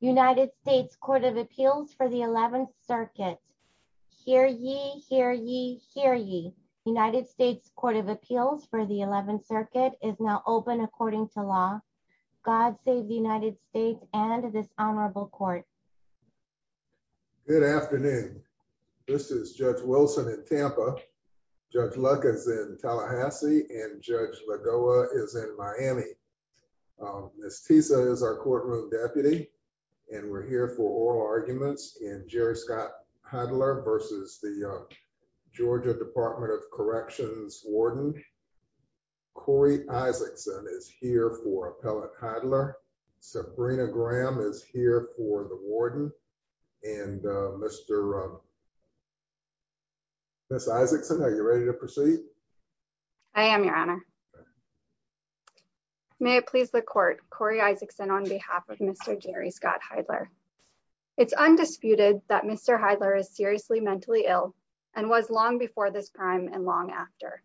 United States Court of Appeals for the 11th Circuit. Hear ye, hear ye, hear ye. United States Court of Appeals for the 11th Circuit is now open according to law. God save the United States and this honorable court. Good afternoon. This is Judge Wilson in Tampa. Judge Luck is in Tallahassee and Judge Lagoa is in Miami. Miss Tisa is our courtroom deputy and we're here for oral arguments in Jerry Scott Heidler v. the Georgia Department of Corrections Warden. Corey Isaacson is here for Appellate Heidler. Sabrina Graham is here for the Warden and Mr. Miss Isaacson, are you ready to proceed? I am, Your Honor. May it please the court, Corey Isaacson on behalf of Mr. Jerry Scott Heidler. It's undisputed that Mr. Heidler is seriously mentally ill and was long before this crime and long after,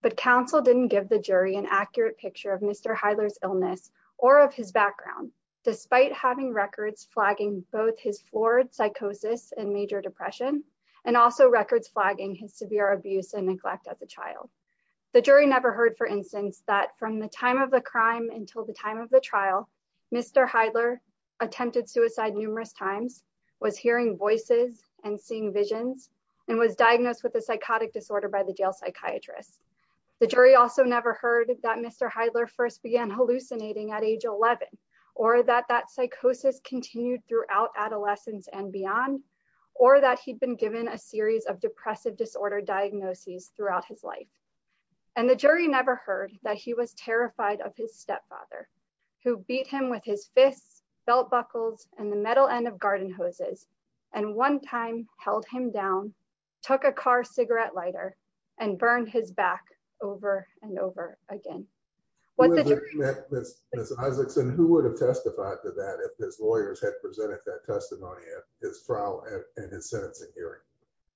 but counsel didn't give the jury an accurate picture of Mr. Heidler's illness or of his background despite having records flagging both his florid psychosis and major depression and also records flagging his severe abuse and neglect as a child. The jury never heard, for instance, that from the time of the crime until the time of the trial, Mr. Heidler attempted suicide numerous times, was hearing voices and seeing visions, and was diagnosed with a psychotic disorder by the jail psychiatrist. The jury also never heard that Mr. Heidler first began hallucinating at age 11 or that that psychosis continued throughout adolescence and beyond or that he'd been given a series of depressive disorder diagnoses throughout his life. And the jury never heard that he was terrified of his stepfather who beat him with his fists, belt buckles, and the metal end of garden hoses, and one time held him down, took a car cigarette lighter, and burned his back over and over again. Ms. Isaacson, who would have testified to that if his lawyers had presented that testimony at his trial and his sentencing hearing?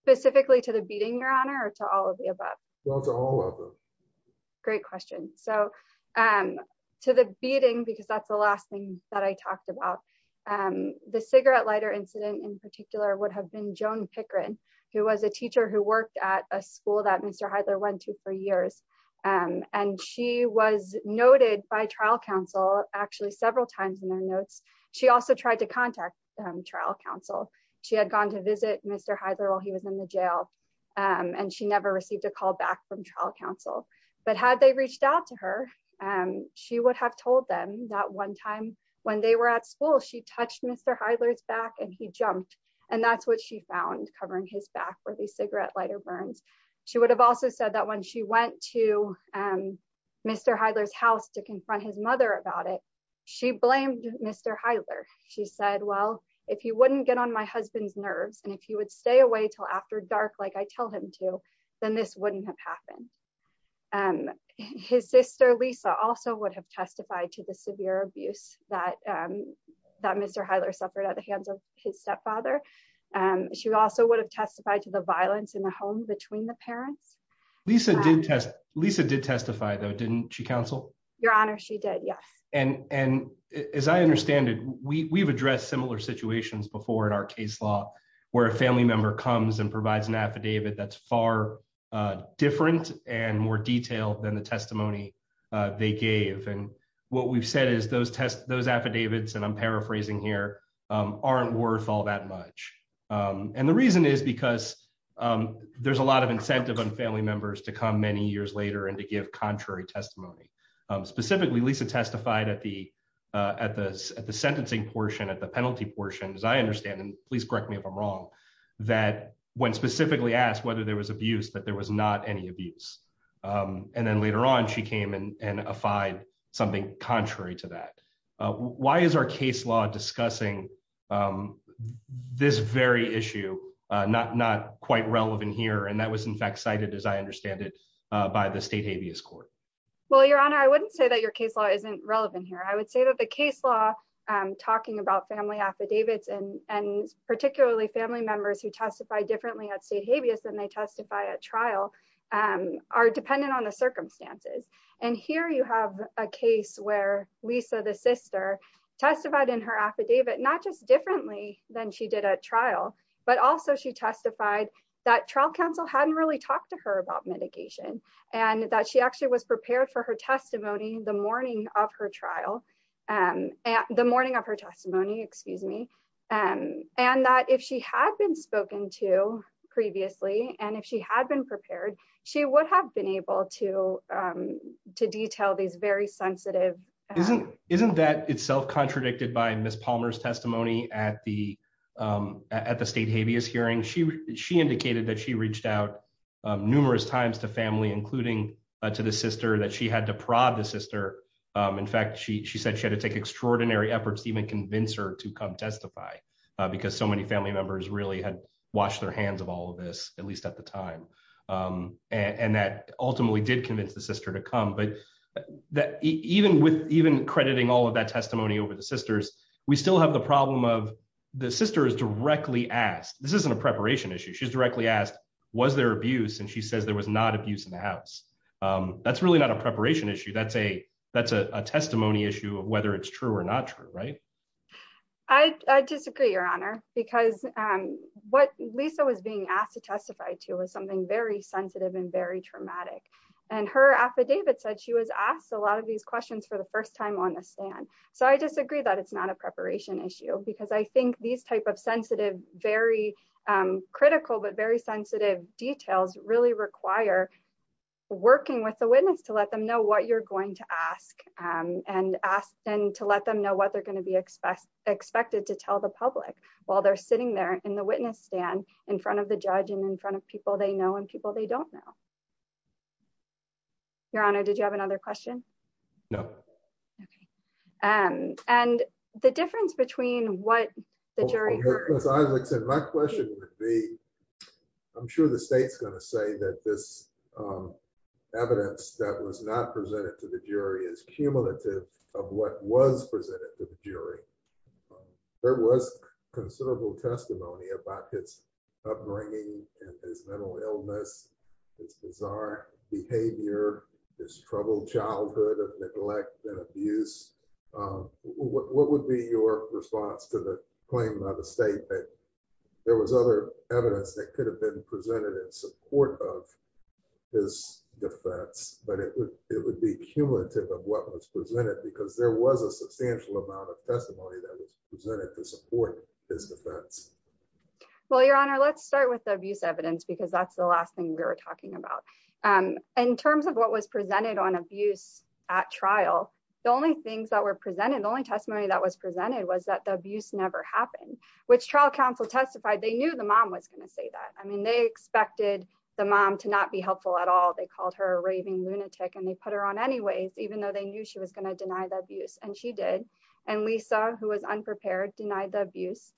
Specifically to the beating, Your Honor, or to all of the above? Well, to all of them. Great question. So to the beating, because that's the last thing that I talked about, the cigarette lighter incident in particular would have been Joan Pickering, who was a teacher who worked at a school that Mr. Heidler went to for years, and she was noted by trial counsel actually several times in their notes. She also tried to contact trial counsel. She had gone to visit Mr. Heidler while he was in the jail and she never received a call back from trial counsel. But had they reached out to her, she would have told them that one time when they were at school, she touched Mr. Heidler's back and he jumped, and that's what she found covering his back where the cigarette lighter burns. She would have also said that when she went to Mr. Heidler's house to confront his mother about it, she blamed Mr. Heidler. She said, well, if he wouldn't get on my husband's nerves and if he would stay away till after dark like I tell him to, then this wouldn't have happened. His sister, Lisa, also would have testified to the severe abuse that Mr. Heidler suffered at the hands of his stepfather. She also would have testified to the violence in the home between the parents. Lisa did testify though, didn't she, counsel? Your honor, she did, yes. And as I and provides an affidavit that's far different and more detailed than the testimony they gave. And what we've said is those affidavits, and I'm paraphrasing here, aren't worth all that much. And the reason is because there's a lot of incentive on family members to come many years later and to give contrary testimony. Specifically, Lisa testified at the sentencing portion, at the penalty portion, as I understand, and please correct me if I'm wrong, that when specifically asked whether there was abuse, that there was not any abuse. And then later on, she came and affide something contrary to that. Why is our case law discussing this very issue? Not quite relevant here. And that was in fact cited as I understand it by the state habeas court. Well, your honor, I wouldn't say that your case law isn't relevant here. I would say that the case law talking about family affidavits and particularly family members who testify differently at state habeas than they testify at trial are dependent on the circumstances. And here you have a case where Lisa, the sister, testified in her affidavit, not just differently than she did at trial, but also she testified that trial counsel hadn't really talked to her about mitigation and that she actually was prepared for her testimony the morning of her trial, the morning of her testimony, excuse me. And that if she had been spoken to previously, and if she had been prepared, she would have been able to detail these very sensitive... Isn't that itself contradicted by Ms. Palmer's testimony at the state habeas hearing? She indicated that she reached out numerous times to family, including to the sister that she had to prod the sister. In fact, she said she had to take extraordinary efforts to even convince her to come testify because so many family members really had washed their hands of all of this, at least at the time. And that ultimately did convince the sister to come. But even crediting all of that testimony over the sisters, we still have the problem of the sister is directly asked, this isn't a preparation issue. She's directly asked, was there abuse? And she said, it's really not a preparation issue. That's a testimony issue of whether it's true or not true, right? I disagree, Your Honor, because what Lisa was being asked to testify to was something very sensitive and very traumatic. And her affidavit said she was asked a lot of these questions for the first time on the stand. So I disagree that it's not a preparation issue because I think these type of sensitive, very critical, but very sensitive details really require working with the witness to let them know what you're going to ask and to let them know what they're going to be expected to tell the public while they're sitting there in the witness stand in front of the judge and in front of people they know and people they don't know. Your Honor, did you have another question? No. And the difference between what the jury heard... My question would be, I'm sure the state's going to say that this evidence that was not presented to the jury is cumulative of what was presented to the jury. There was considerable testimony about his upbringing and his mental illness, his bizarre behavior, his troubled childhood of neglect and abuse. What would be your response to the claim by the state that there was other evidence that could have been presented in support of his defense, but it would be cumulative of what was presented because there was a substantial amount of testimony that was presented to support his defense? Well, Your Honor, let's start with the abuse evidence because that's the last thing we were talking about. In terms of what was presented on abuse at trial, the only things that were presented, the only testimony that was presented was that the abuse never happened, which trial testified, they knew the mom was going to say that. I mean, they expected the mom to not be helpful at all. They called her a raving lunatic and they put her on anyways, even though they knew she was going to deny the abuse and she did. And Lisa, who was unprepared, denied the abuse.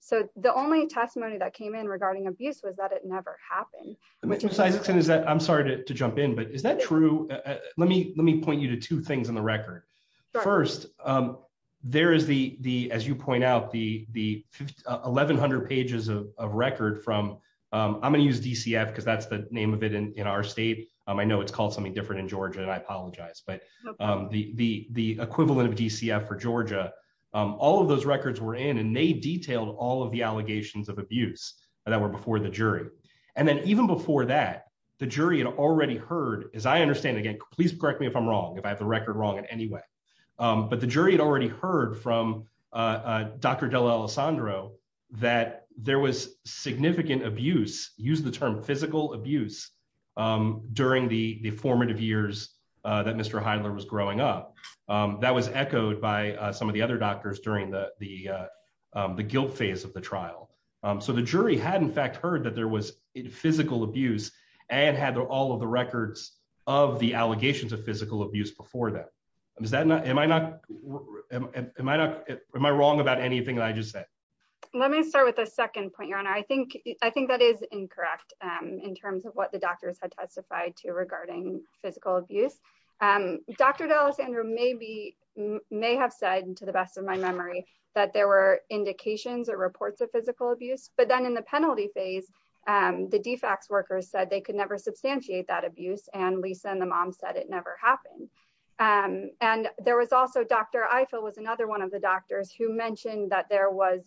So the only testimony that came in regarding abuse was that it never happened. I'm sorry to jump in, but is that true? Let me point you to two things on the record. First, there is the, as you point out, the 1,100 pages of record from, I'm going to use DCF because that's the name of it in our state. I know it's called something different in Georgia and I apologize, but the equivalent of DCF for Georgia, all of those records were in and they detailed all of the allegations of abuse that were before the jury. And then even before that, the jury had already heard, as I understand, again, please correct me if I'm wrong, if I have the record wrong in any way, but the jury had already heard from Dr. Della Alessandro that there was significant abuse, use the term physical abuse, during the formative years that Mr. Heidler was growing up. That was echoed by some of the other doctors during the guilt phase of the trial. So the jury had in fact heard that there was physical abuse and had all of the records of the allegations of physical abuse before that. Am I wrong about anything that I just said? Let me start with a second point, your honor. I think that is incorrect in terms of what the doctors had testified to regarding physical abuse. Dr. Della Alessandro may have said, to the best of my memory, that there were indications or reports of physical abuse, but then in the penalty phase, the DFAX workers said they could never substantiate that abuse. Lisa and the mom said it never happened. Dr. Ifill was another one of the doctors who mentioned that there was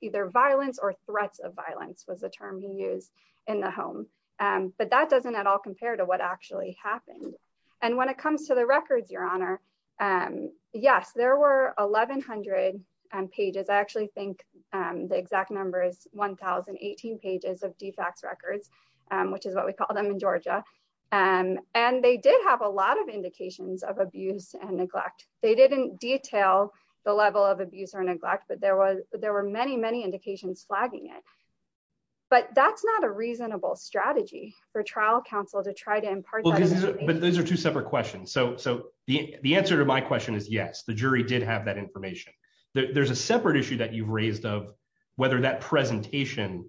either violence or threats of violence was the term he used in the home, but that doesn't at all compare to what actually happened. When it comes to the records, your honor, yes, there were 1100 pages. I actually think the exact number is 1018 pages of DFAX records, which is what we call them in Georgia. And they did have a lot of indications of abuse and neglect. They didn't detail the level of abuse or neglect, but there were many, many indications flagging it. But that's not a reasonable strategy for trial counsel to try to impart. But those are two separate questions. So the answer to my question is yes, the jury did have that information. There's a separate issue that you've raised of whether that presentation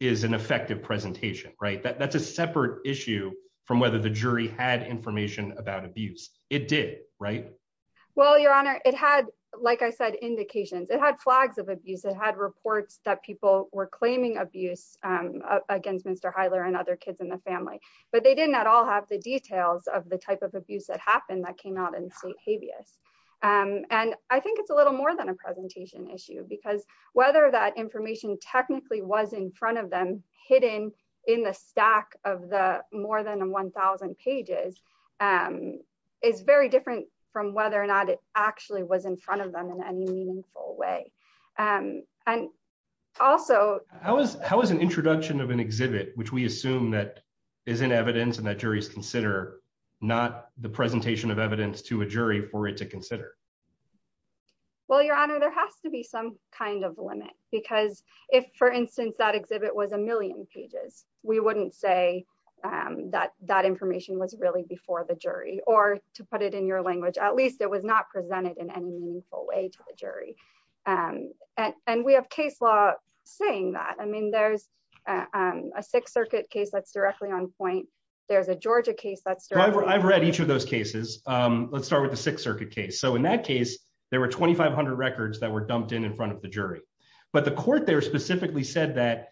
is an effective presentation, right? That's a separate issue from whether the jury had information about abuse. It did, right? Well, your honor, it had, like I said, indications. It had flags of abuse. It had reports that people were claiming abuse against Mr. Heiler and other kids in the family, but they didn't at all have the details of the type of abuse that happened that came out in state habeas. And I think it's a little more than a presentation issue because whether that information technically was in front of them, hidden in the stack of the more than 1,000 pages, is very different from whether or not it actually was in front of them in any meaningful way. And also- How is an introduction of an exhibit, which we assume that is in evidence and that juries consider, not the presentation of evidence to a jury for it to consider? Well, your honor, there has to be some kind of limit because if, for instance, that exhibit was a million pages, we wouldn't say that that information was really before the jury, or to put it in your language, at least it was not presented in any meaningful way to the jury. And we have case law saying that. I mean, there's a Sixth Circuit case that's with the Sixth Circuit case. So in that case, there were 2,500 records that were dumped in in front of the jury. But the court there specifically said that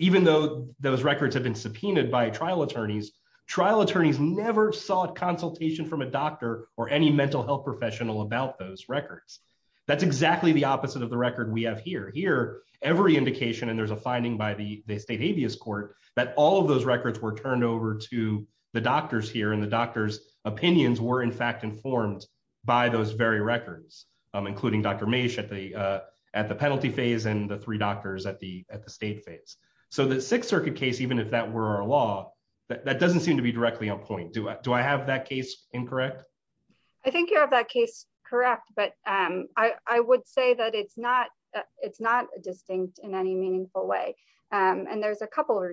even though those records have been subpoenaed by trial attorneys, trial attorneys never sought consultation from a doctor or any mental health professional about those records. That's exactly the opposite of the record we have here. Here, every indication, and there's a finding by the state habeas court, that all of those records were turned over to the doctors here and the doctor's opinions were, in fact, informed by those very records, including Dr. Mase at the penalty phase and the three doctors at the state phase. So the Sixth Circuit case, even if that were our law, that doesn't seem to be directly on point. Do I have that case incorrect? I think you have that case correct. But I would say that it's not distinct in any meaningful way. And there's a couple of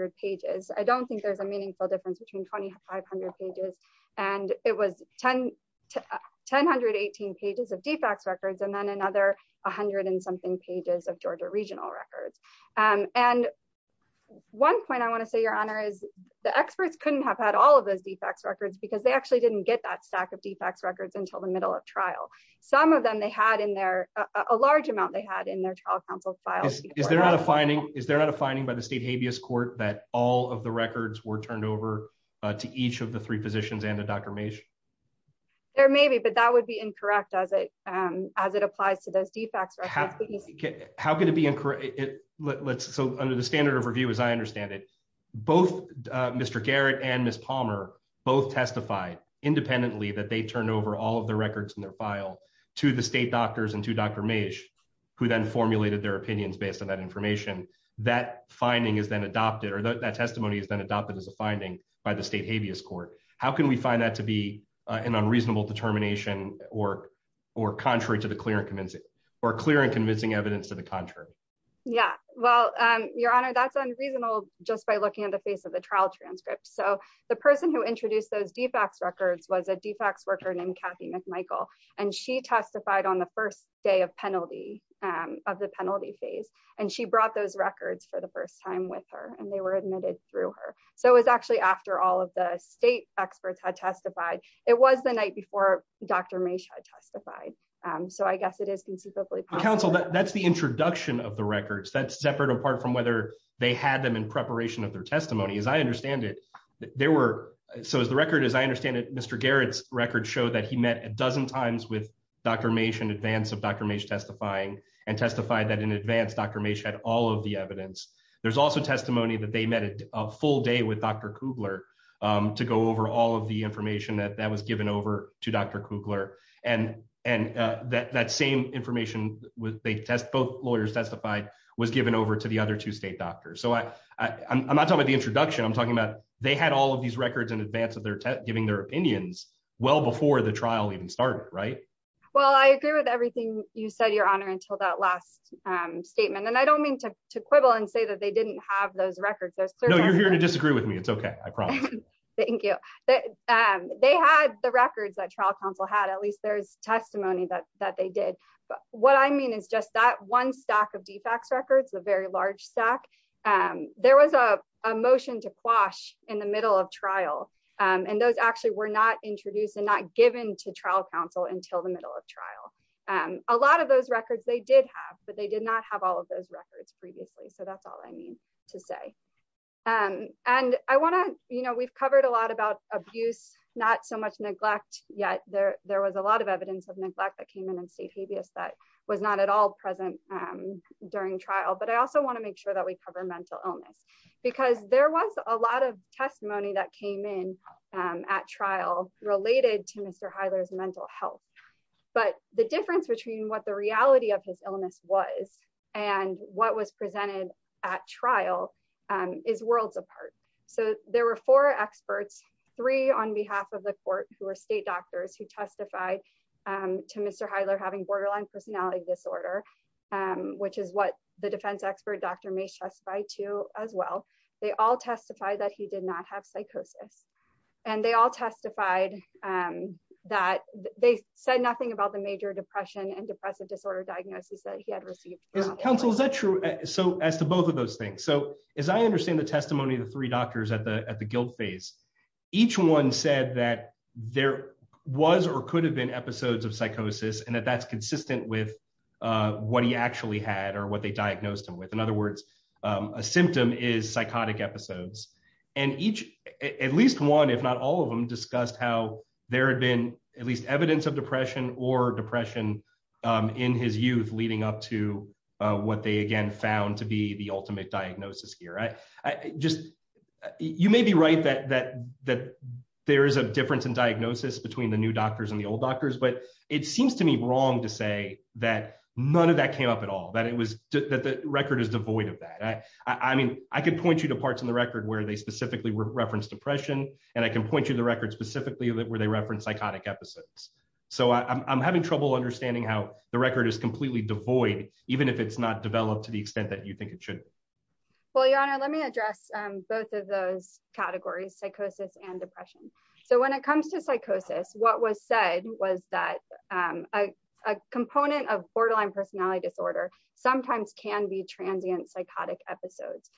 I don't think there's a meaningful difference between 2,500 pages. And it was 10 to 1,018 pages of defects records, and then another 100 and something pages of Georgia regional records. And one point I want to say, Your Honor, is the experts couldn't have had all of those defects records because they actually didn't get that stack of defects records until the middle of trial. Some of them they had in there, a large amount they had in their trial counsel files. Is there not a finding? Is there not a finding by the state habeas court that all of the records were turned over to each of the three positions and the Dr. Mase? There may be, but that would be incorrect as it applies to those defects records. How could it be incorrect? So under the standard of review, as I understand it, both Mr. Garrett and Ms. Palmer both testified independently that they turned over all of the records in their file to the state doctors and Dr. Mase, who then formulated their opinions based on that information. That finding is then adopted or that testimony is then adopted as a finding by the state habeas court. How can we find that to be an unreasonable determination or contrary to the clear and convincing evidence to the contrary? Yeah. Well, Your Honor, that's unreasonable just by looking at the face of the trial transcript. So the person who introduced those defects records was a defects worker named Kathy McMichael, and she testified on the first day of penalty of the penalty phase, and she brought those records for the first time with her and they were admitted through her. So it was actually after all of the state experts had testified. It was the night before Dr. Mase had testified. So I guess it is conceivably counsel. That's the introduction of the records that separate apart from whether they had them in preparation of their testimony. As I understand it, there were. So as the record, as I understand it, Mr. Garrett's record showed that he met a dozen times with Dr. Mase in advance of Dr. Mase testifying and testified that in advance Dr. Mase had all of the evidence. There's also testimony that they met a full day with Dr. Kugler to go over all of the information that was given over to Dr. Kugler. And that same information they test, both lawyers testified, was given over to the other two state doctors. So I'm not talking about the introduction. I'm talking about they had all of these records in advance of their giving their opinions well before the trial even started. Right. Well, I agree with everything you said, your honor, until that last statement. And I don't mean to quibble and say that they didn't have those records. No, you're here to disagree with me. It's OK. I promise. Thank you. They had the records that trial counsel had. At least there's testimony that that they did. But what I mean is just that one stack of defects records, a very large stack, there was a motion to quash in the middle of trial and those actually were not introduced and not given to trial counsel until the middle of trial. A lot of those records they did have, but they did not have all of those records previously. So that's all I mean to say. And I want to you know, we've covered a lot about abuse, not so much neglect yet. There was a lot of evidence of neglect that came in and state habeas that was not at all present during trial. But I also want to make sure that we cover mental illness because there was a lot of testimony that came in at trial related to Mr. Hyler's mental health. But the difference between what the reality of his illness was and what was presented at trial is worlds apart. So there were four experts, three on behalf of the court who are state doctors who testified to Mr. Hyler having borderline personality disorder, which is what the defense expert doctor may testify to as well. They all testified that he did not have psychosis. And they all testified that they said nothing about the major depression and depressive disorder diagnosis that he had received. Counsel, is that true? So as to both of those things, so as I understand the testimony of the three doctors at the at the guilt phase, each one said that there was or could have been episodes of psychosis and that that's consistent with what he actually had or what they diagnosed him with. In other words, a symptom is psychotic episodes. And each at least one, if not all of them, discussed how there had been at least evidence of depression or depression in his youth leading up to what they again found to be the new doctors and the old doctors. But it seems to me wrong to say that none of that came up at all, that it was that the record is devoid of that. I mean, I can point you to parts in the record where they specifically referenced depression, and I can point you to the record specifically where they referenced psychotic episodes. So I'm having trouble understanding how the record is completely devoid, even if it's not developed to the extent that you think it should. Well, your honor, let me address both of those categories, psychosis and depression. So when it comes to psychosis, what was said was that a component of borderline personality disorder sometimes can be transient psychotic episodes.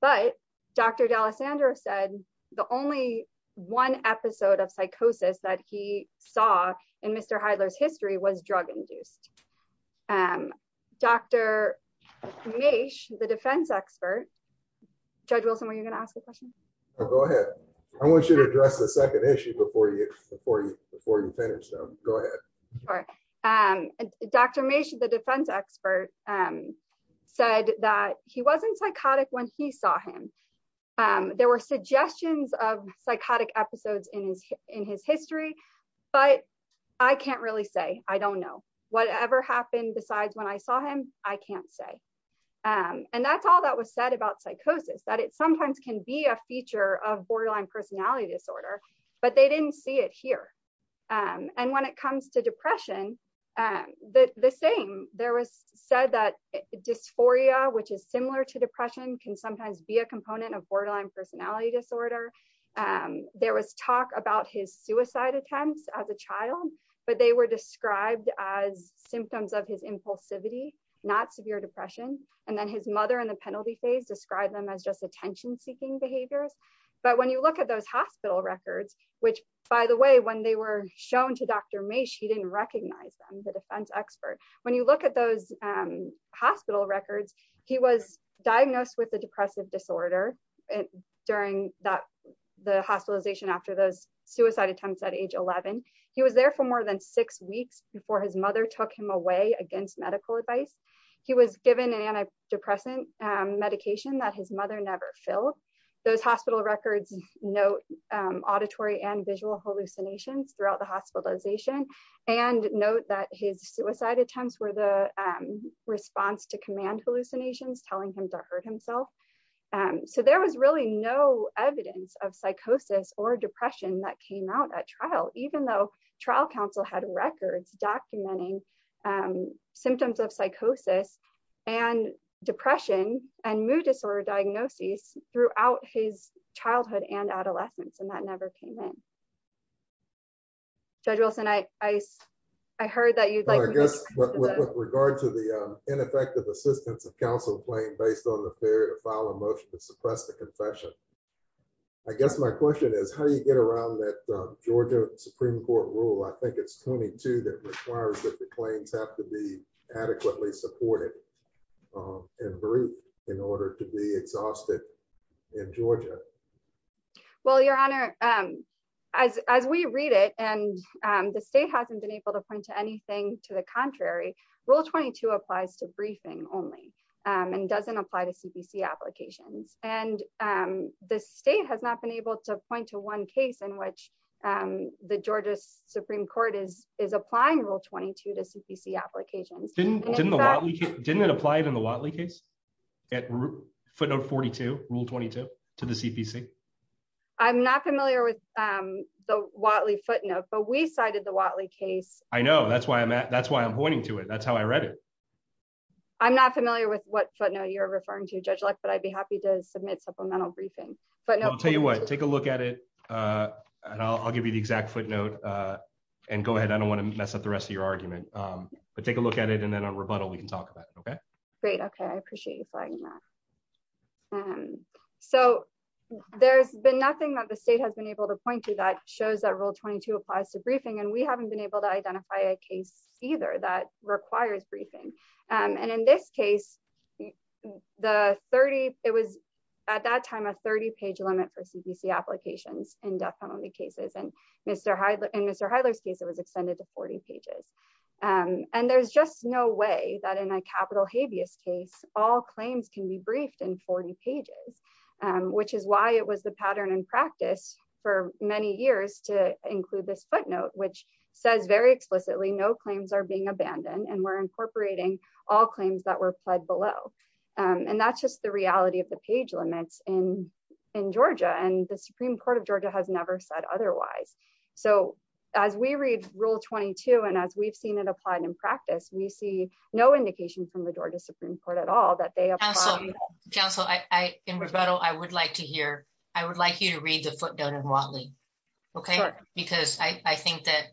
But Dr. D'Alessandro said the only one episode of psychosis that he saw in Mr. Heidler's history was drug-induced. Dr. Mache, the defense expert, Judge Wilson, were you going to ask a question? Go ahead. I want you to address the second issue before you finish. Go ahead. Dr. Mache, the defense expert, said that he wasn't psychotic when he saw him. There were suggestions of psychotic episodes in his history, but I can't really say. I don't know. Whatever happened besides when I saw him, I can't say. And that's all that was said about psychosis, that it sometimes can be a feature of borderline personality disorder, but they didn't see it here. And when it comes to depression, the same. There was said that dysphoria, which is similar to depression, can sometimes be a component of borderline personality disorder. There was talk about his suicide attempts as a child, but they were described as symptoms of his impulsivity, not severe depression. And then his mother in the penalty phase described them as just attention-seeking behaviors. But when you look at those hospital records, which, by the way, when they were shown to Dr. Mache, he didn't recognize them, the defense expert. When you look at those hospital records, he was diagnosed with a depressive disorder during the hospitalization after those suicide attempts at age 11. He was there for more than six weeks before his mother took him away against medical advice. He was given an antidepressant medication that his mother never filled. Those hospital records note auditory and visual hallucinations throughout the hospitalization and note that his suicide attempts were the response to command hallucinations, telling him to hurt himself. So there was really no evidence of psychosis or depression that came out at trial, even though trial counsel had records documenting symptoms of psychosis and depression and mood disorder diagnoses throughout his childhood and adolescence, and that never came in. Judge Wilson, I heard that you'd like to- Well, I guess with regard to the ineffective assistance of counsel playing based on the period of foul emotion to suppress the confession, I guess my question is how do you get around that Georgia Supreme Court rule, I think it's 22, that requires that the claims have to be adequately supported and briefed in order to be exhausted in Georgia. Well, Your Honor, as we read it, and the state hasn't been able to point to anything to the contrary, Rule 22 applies to briefing only and doesn't apply to CPC applications. And the state has not been able to point to one case in which the Georgia Supreme Court is applying Rule 22 to CPC applications. Didn't it apply in the Whatley case, footnote 42, Rule 22, to the CPC? I'm not familiar with the Whatley footnote, but we cited the Whatley case. I know, that's why I'm pointing to it. That's how I read it. I'm not familiar with what footnote you're referring to, Judge Luck, but I'd be happy to submit supplemental briefing. But I'll tell you what, take a look at it. And I'll give you the exact footnote. And go ahead. I don't want to mess up the rest of your argument. But take a look at it. And then on rebuttal, we can talk about it. Okay. Great. Okay. I appreciate you flagging that. So there's been nothing that the state has been able to point to that shows that Rule 22 applies to briefing and we haven't been able to identify a case either that requires briefing. And in this case, it was at that time a 30-page limit for CPC applications in death penalty cases. And in Mr. Heidler's case, it was extended to 40 pages. And there's just no way that in a capital habeas case, all claims can be briefed in 40 pages, which is why it was the pattern in practice for many years to include this all claims that were pled below. And that's just the reality of the page limits in Georgia. And the Supreme Court of Georgia has never said otherwise. So as we read Rule 22, and as we've seen it applied in practice, we see no indication from the Georgia Supreme Court at all that they have. Counsel, in rebuttal, I would like to hear, I would like you to read the footnote in Watley. Okay. Because I think that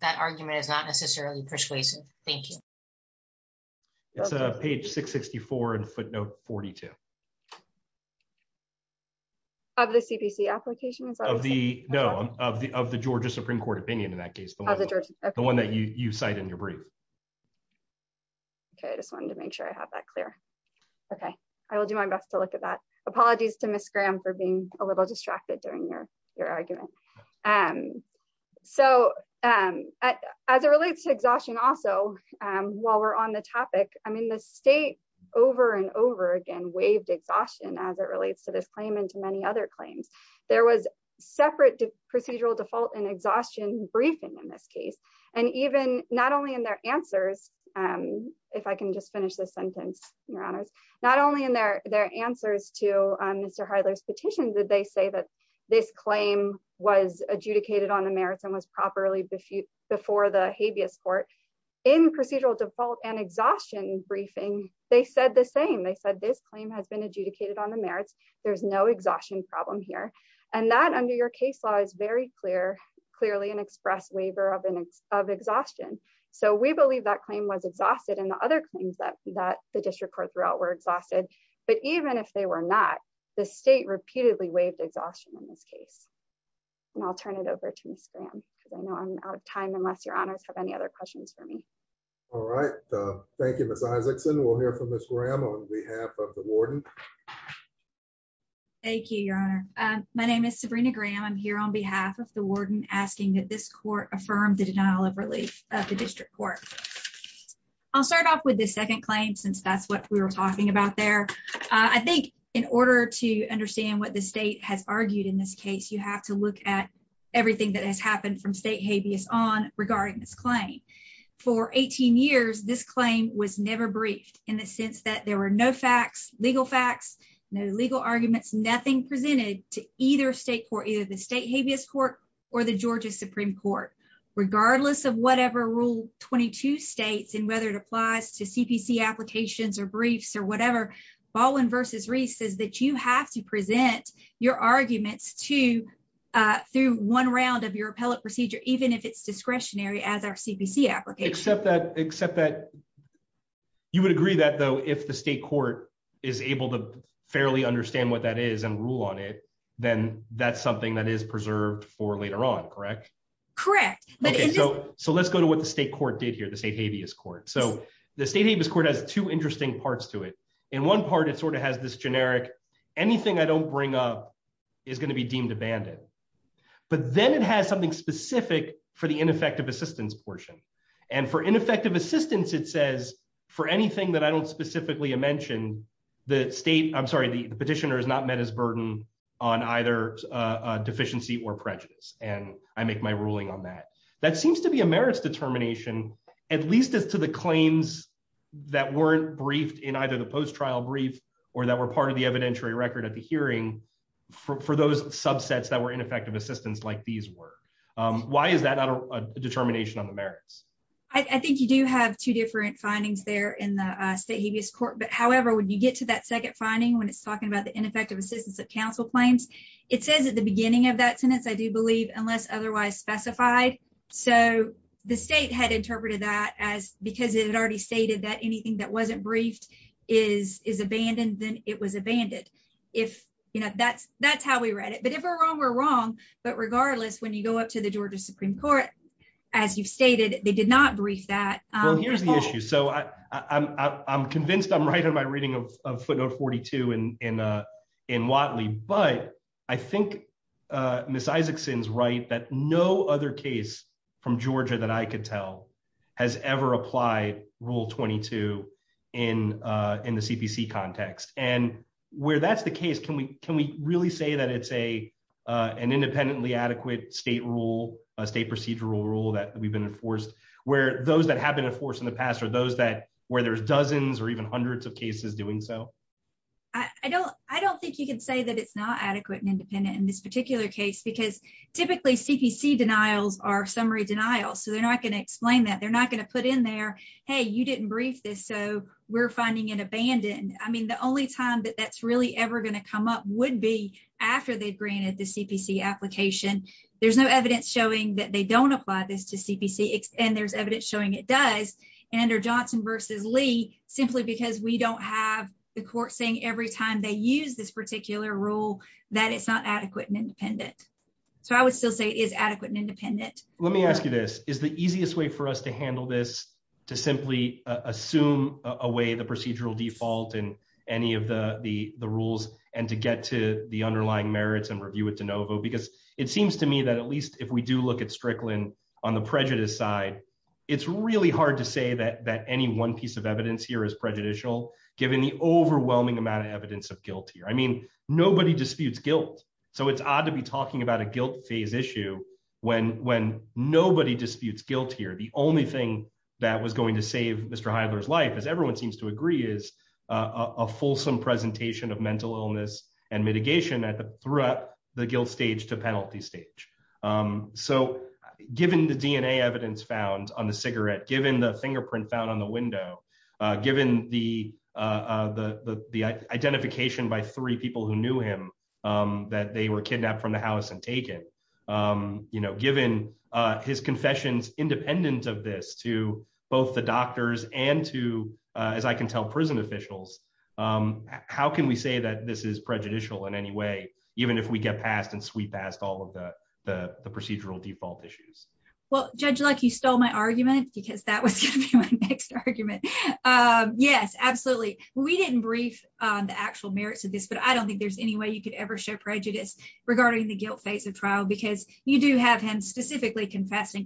that argument is not necessarily persuasive. Thank you. It's a page 664 and footnote 42. Of the CPC application? Of the no, of the of the Georgia Supreme Court opinion in that case, the one that you cite in your brief. Okay, I just wanted to make sure I have that clear. Okay, I will do my best to look at that. Apologies to Miss Graham for being a little distracted during your argument. And so as it relates to exhaustion, also, while we're on the topic, I mean, the state over and over again waived exhaustion as it relates to this claim and to many other claims. There was separate procedural default and exhaustion briefing in this case. And even not only in their answers, if I can just finish this sentence, Your Honors, not only in their their answers to Mr. Heidler's petition, did they say that this claim was adjudicated on the merits and was properly before the habeas court in procedural default and exhaustion briefing, they said the same. They said this claim has been adjudicated on the merits. There's no exhaustion problem here. And that under your case law is very clear, clearly an express waiver of exhaustion. So we believe that claim was exhausted and the other claims that that the the state repeatedly waived exhaustion in this case. And I'll turn it over to Miss Graham, because I know I'm out of time unless your honors have any other questions for me. All right. Thank you, Miss Isakson. We'll hear from Miss Graham on behalf of the warden. Thank you, Your Honor. My name is Sabrina Graham. I'm here on behalf of the warden asking that this court affirmed the denial of relief of the district court. I'll start off with the second claim since that's what we were talking about there. I think in order to understand what the state has argued in this case, you have to look at everything that has happened from state habeas on regarding this claim. For 18 years, this claim was never briefed in the sense that there were no facts, legal facts, no legal arguments, nothing presented to either state for either the state habeas court or the Georgia Supreme Court, regardless of whatever rule 22 states and it applies to CPC applications or briefs or whatever. Baldwin versus Reese says that you have to present your arguments to through one round of your appellate procedure, even if it's discretionary as our CPC application, except that except that. You would agree that, though, if the state court is able to fairly understand what that is and rule on it, then that's something that is preserved for later on, correct? Correct. So so let's go to what the state court did here, the state habeas court. So the state habeas court has two interesting parts to it. In one part, it sort of has this generic, anything I don't bring up is going to be deemed abandoned. But then it has something specific for the ineffective assistance portion. And for ineffective assistance, it says for anything that I don't specifically mention, the state I'm sorry, the petitioner is not met his burden on either deficiency or prejudice. And I make my ruling on that. That seems to be a merits determination, at least as to the claims that weren't briefed in either the post trial brief, or that were part of the evidentiary record at the hearing for those subsets that were ineffective assistance like these were. Why is that a determination on the merits? I think you do have two different findings there in the state habeas court. But however, when you get to that second finding, when it's talking about the ineffective assistance of claims, it says at the beginning of that sentence, I do believe unless otherwise specified. So the state had interpreted that as because it had already stated that anything that wasn't briefed is is abandoned, then it was abandoned. If you know, that's, that's how we read it. But if we're wrong, we're wrong. But regardless, when you go up to the Georgia Supreme Court, as you've stated, they did not brief that. Well, here's the issue. So I'm convinced I'm right on my reading of footnote 42. And in in Watley, but I think Miss Isaacson's right that no other case from Georgia that I could tell, has ever applied rule 22. In in the CPC context, and where that's the case, can we can we really say that it's a, an independently adequate state rule, a state procedural rule that we've been enforced, where those that have been enforced in the past are those that where there's dozens or even hundreds of cases doing so? I don't, I don't think you can say that it's not adequate and independent in this particular case, because typically CPC denials are summary denial. So they're not going to explain that they're not going to put in there. Hey, you didn't brief this. So we're finding it abandoned. I mean, the only time that that's really ever going to come up would be after they granted the CPC application. There's no evidence showing that they don't apply this to CPC. And there's evidence showing it does. And or Johnson versus Lee, simply because we don't have the court saying every time they use this particular rule, that it's not adequate and independent. So I would still say is adequate and independent. Let me ask you this is the easiest way for us to handle this, to simply assume away the procedural default and any of the the rules and to get to the underlying merits and review it de novo, because it seems to me that at least if we do look at Strickland on the prejudice side, it's really hard to say that that any one piece of evidence here is prejudicial, given the overwhelming amount of evidence of guilt here. I mean, nobody disputes guilt. So it's odd to be talking about a guilt phase issue. When when nobody disputes guilt here, the only thing that was going to save Mr. Heidler's life, as everyone seems to agree, is a fulsome presentation of mental illness and mitigation at the throughout the guilt stage to penalty stage. So given the DNA evidence found on the cigarette, given the fingerprint found on the window, given the the the identification by three people who knew him, that they were kidnapped from the house and taken, you know, given his confessions independent of this to both the doctors and to, as I can tell prison officials, how can we say that this is prejudicial in any way, even if we get past and sweep past all of the the procedural default issues? Well, Judge Luck, you stole my argument, because that was my next argument. Yes, absolutely. We didn't brief on the actual merits of this, but I don't think there's any way you could ever show prejudice regarding the guilt phase of trial, because you do have him specifically confessing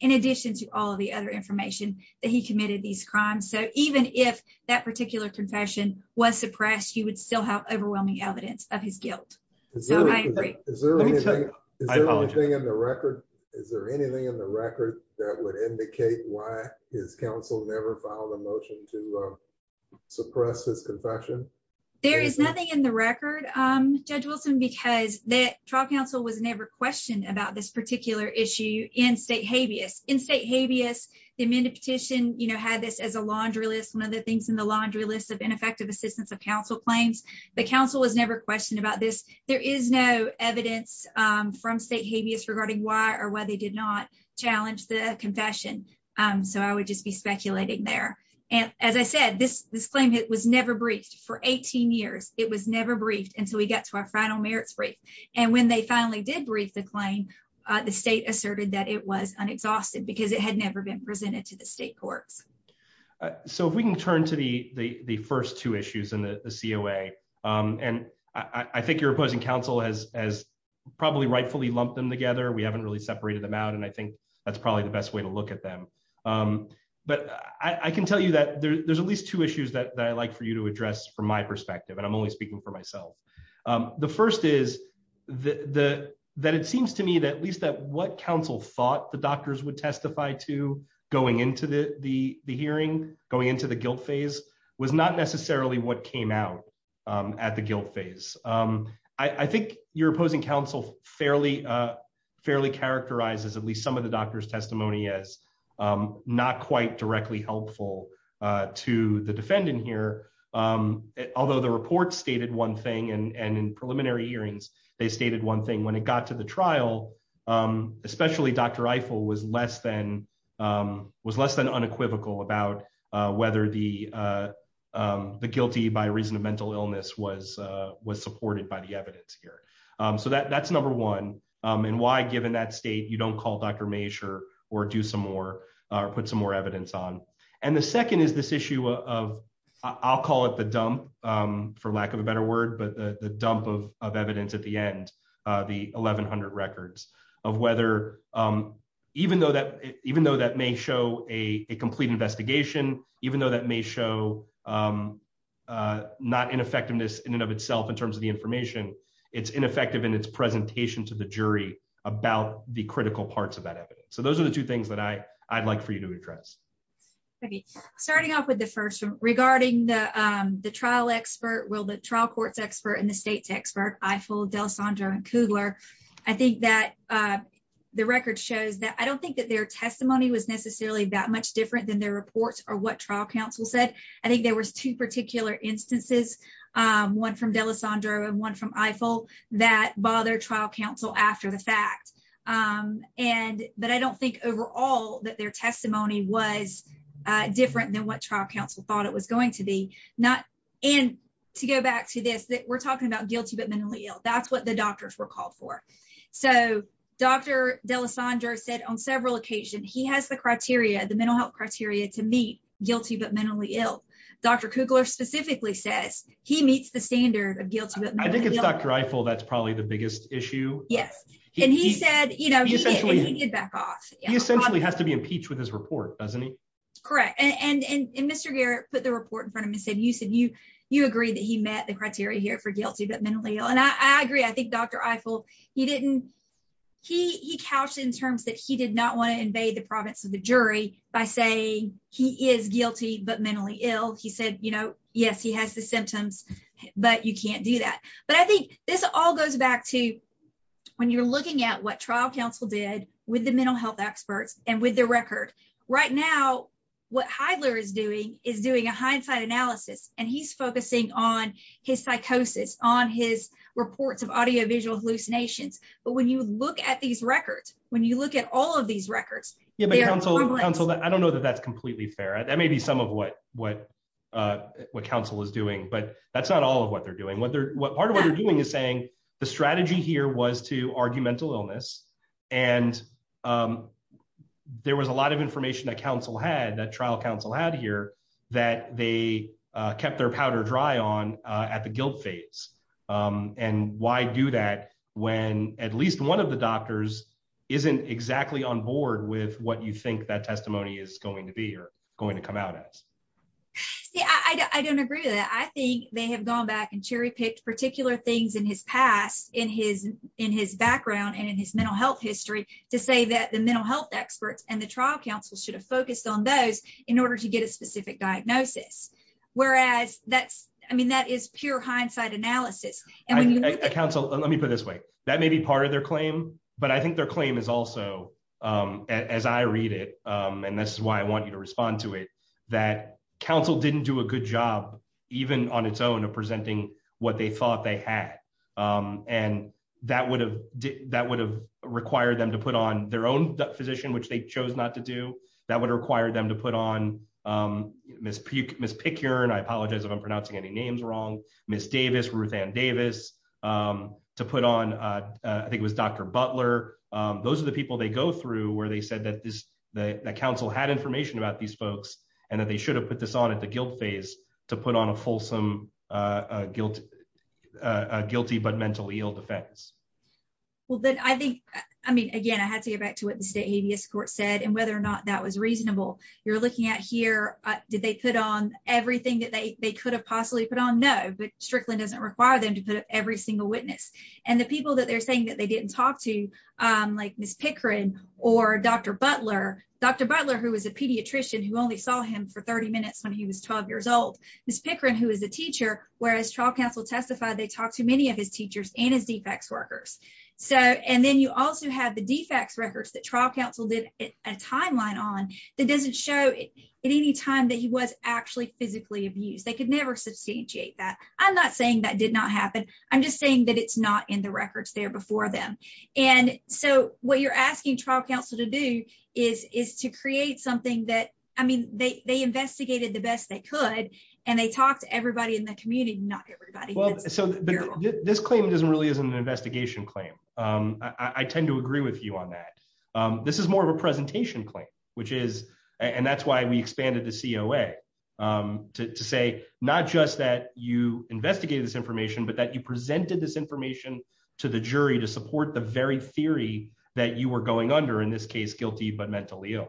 in addition to all of the other information that he committed these crimes. So even if that particular confession was suppressed, you would still have overwhelming evidence of his guilt. Is there anything in the record? Is there anything in the record that would indicate why his counsel never filed a motion to suppress his confession? There is nothing in the record, Judge Wilson, because the trial counsel was never questioned about this particular issue in state habeas. In state habeas, the amended petition, you know, had this as a laundry list, one of the things in the laundry list of ineffective assistance of counsel claims. The counsel was never questioned about this. There is no evidence from state habeas regarding why or why they did not challenge the confession. So I would just be speculating there. And as I said, this claim was never briefed for 18 years. It was never briefed until we got to our final merits brief. And when they finally did brief the claim, the state asserted that it was unexhausted because it had never been presented to the state courts. So if we can turn to the first two issues in the COA, and I think your opposing counsel has probably rightfully lumped them together. We haven't really separated them out. And I think that's probably the best way to look at them. But I can tell you that there's at least two issues that I like for you to address from my perspective, and I'm only speaking for myself. The first is that it seems to me that at least that what counsel thought the doctors would testify to going into the hearing, going into the guilt phase, was not necessarily what came out at the guilt phase. I think your opposing counsel fairly characterizes at least some of the doctor's testimony as not quite directly helpful to the defendant here. Although the report stated one thing, and in preliminary hearings, they stated one thing. When it got to the trial, especially Dr. Eiffel was less than unequivocal about whether the guilty by reason of mental illness was supported by the evidence here. So that's number one. And why, given that state, you don't call Dr. Maescher or do some more or put some more evidence on. And the second is this issue of, I'll call it the dump, for lack of a better word, but the dump of evidence at the end, the 1,100 records, of whether, even though that may show a complete investigation, even though that may show not ineffectiveness in and of itself in its presentation to the jury about the critical parts of that evidence. So those are the two things that I'd like for you to address. Okay. Starting off with the first one. Regarding the trial expert, well, the trial court's expert and the state's expert, Eiffel, D'Alessandro, and Kugler, I think that the record shows that I don't think that their testimony was necessarily that much different than their reports or what trial counsel said. I think there was two particular instances, one from D'Alessandro and one from Eiffel, that bothered trial counsel after the fact. But I don't think overall that their testimony was different than what trial counsel thought it was going to be. And to go back to this, we're talking about guilty but mentally ill. That's what the doctors were called for. So Dr. D'Alessandro said on several occasions, he has the criteria, the mental health criteria, to meet guilty but mentally ill. Dr. Kugler specifically says he meets the standard of guilty. I think it's Dr. Eiffel that's probably the biggest issue. Yes. And he said, you know, he essentially has to be impeached with his report, doesn't he? Correct. And Mr. Garrett put the report in front of me and said, you said you you agree that he met the criteria here for guilty but mentally ill. And I agree. I think Dr. Eiffel, he didn't, he couched in terms that he did not want to invade the province of the jury by saying he is guilty but mentally ill. He said, you know, yes, he has the symptoms, but you can't do that. But I think this all goes back to when you're looking at what trial counsel did with the mental health experts and with their record. Right now, what Heidler is doing is doing a hindsight analysis, and he's focusing on his psychosis, on his reports of audiovisual hallucinations. But when you look at these records, when you look at all of these I don't know that that's completely fair. That may be some of what what what counsel is doing. But that's not all of what they're doing. What they're what part of what they're doing is saying the strategy here was to argumental illness. And there was a lot of information that counsel had that trial counsel had here that they kept their powder dry on at the guilt phase. And why do that when at least one of the doctors isn't exactly on board with what you think that testimony is going to be or going to come out as? I don't agree with that. I think they have gone back and cherry picked particular things in his past in his in his background and in his mental health history to say that the mental health experts and the trial counsel should have focused on those in order to get a specific diagnosis. Whereas that's I mean, that is pure hindsight analysis. Counsel, let me put it this way. That may be part of their claim. But I think their claim is also as I read it, and this is why I want you to respond to it, that counsel didn't do a good job, even on its own of presenting what they thought they had. And that would have that would have required them to put on their own physician, which they chose not to do that would require them to on miss miss pick your and I apologize if I'm pronouncing any names wrong, Miss Davis, Ruthann Davis, to put on, I think it was Dr. Butler. Those are the people they go through where they said that this the council had information about these folks, and that they should have put this on at the guilt phase to put on a fulsome guilt, guilty but mentally ill defense. Well, then I think, I mean, again, I had to get back to what the state habeas court said and whether or not that was reasonable. You're looking at here, did they put on everything that they could have possibly put on? No, but strictly doesn't require them to put up every single witness. And the people that they're saying that they didn't talk to, like Miss Pickering, or Dr. Butler, Dr. Butler, who was a pediatrician who only saw him for 30 minutes when he was 12 years old, Miss Pickering, who is a teacher, whereas trial counsel testified, they talked to many of his teachers and his defects workers. So and then you also have the defects records that trial counsel did a timeline on that doesn't show at any time that he was actually physically abused, they could never substantiate that. I'm not saying that did not happen. I'm just saying that it's not in the records there before them. And so what you're asking trial counsel to do is is to create something that I mean, they investigated the best they could. And they talked to everybody in the community, not everybody. So this claim doesn't really isn't an investigation claim. I tend to agree with you on that. This is more of a presentation claim, which is, and that's why we expanded the COA to say not just that you investigated this information, but that you presented this information to the jury to support the very theory that you were going under in this case, guilty, but mentally ill.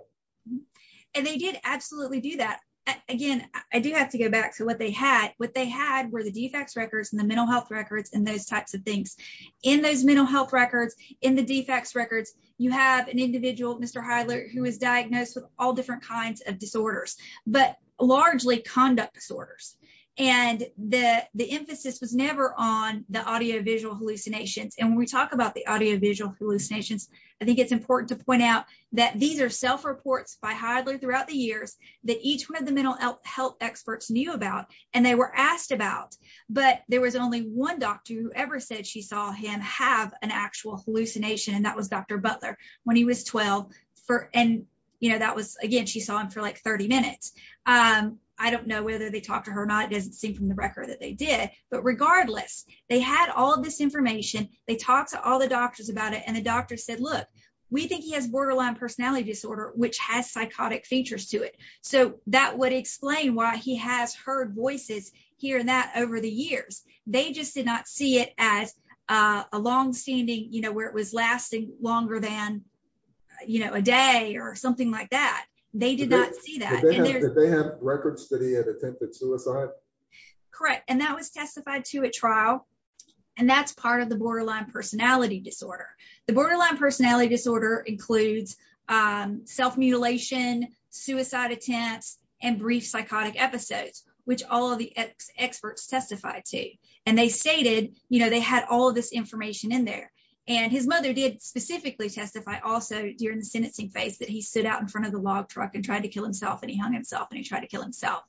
And they did absolutely do that. Again, I do have to go back to what they had, what they had were the defects records and the mental health records and those types of things. In those mental health records, in the defects records, you have an individual, Mr. Heidler, who was diagnosed with all different kinds of disorders, but largely conduct disorders. And the the emphasis was never on the audio visual hallucinations. And when we talk about the audio visual hallucinations, I think it's important to point out that these are self reports by throughout the years that each one of the mental health experts knew about. And they were asked about, but there was only one doctor who ever said she saw him have an actual hallucination. And that was Dr. Butler when he was 12. And that was again, she saw him for like 30 minutes. I don't know whether they talked to her or not. It doesn't seem from the record that they did, but regardless, they had all this information. They talked to all the doctors about it. And the doctor said, look, we think he has borderline personality disorder, which has psychotic features to it. So that would explain why he has heard voices here and that over the years, they just did not see it as a long standing, you know, where it was lasting longer than, you know, a day or something like that. They did not see that. They have records that he had attempted suicide. Correct. And that was testified to a trial. And that's part of the borderline personality disorder. The borderline personality disorder includes self mutilation, suicide attempts, and brief psychotic episodes, which all of the experts testified to. And they stated, you know, they had all of this information in there. And his mother did specifically testify also during the sentencing phase that he stood out in front of the log truck and tried to kill himself and he hung himself and he tried to kill himself.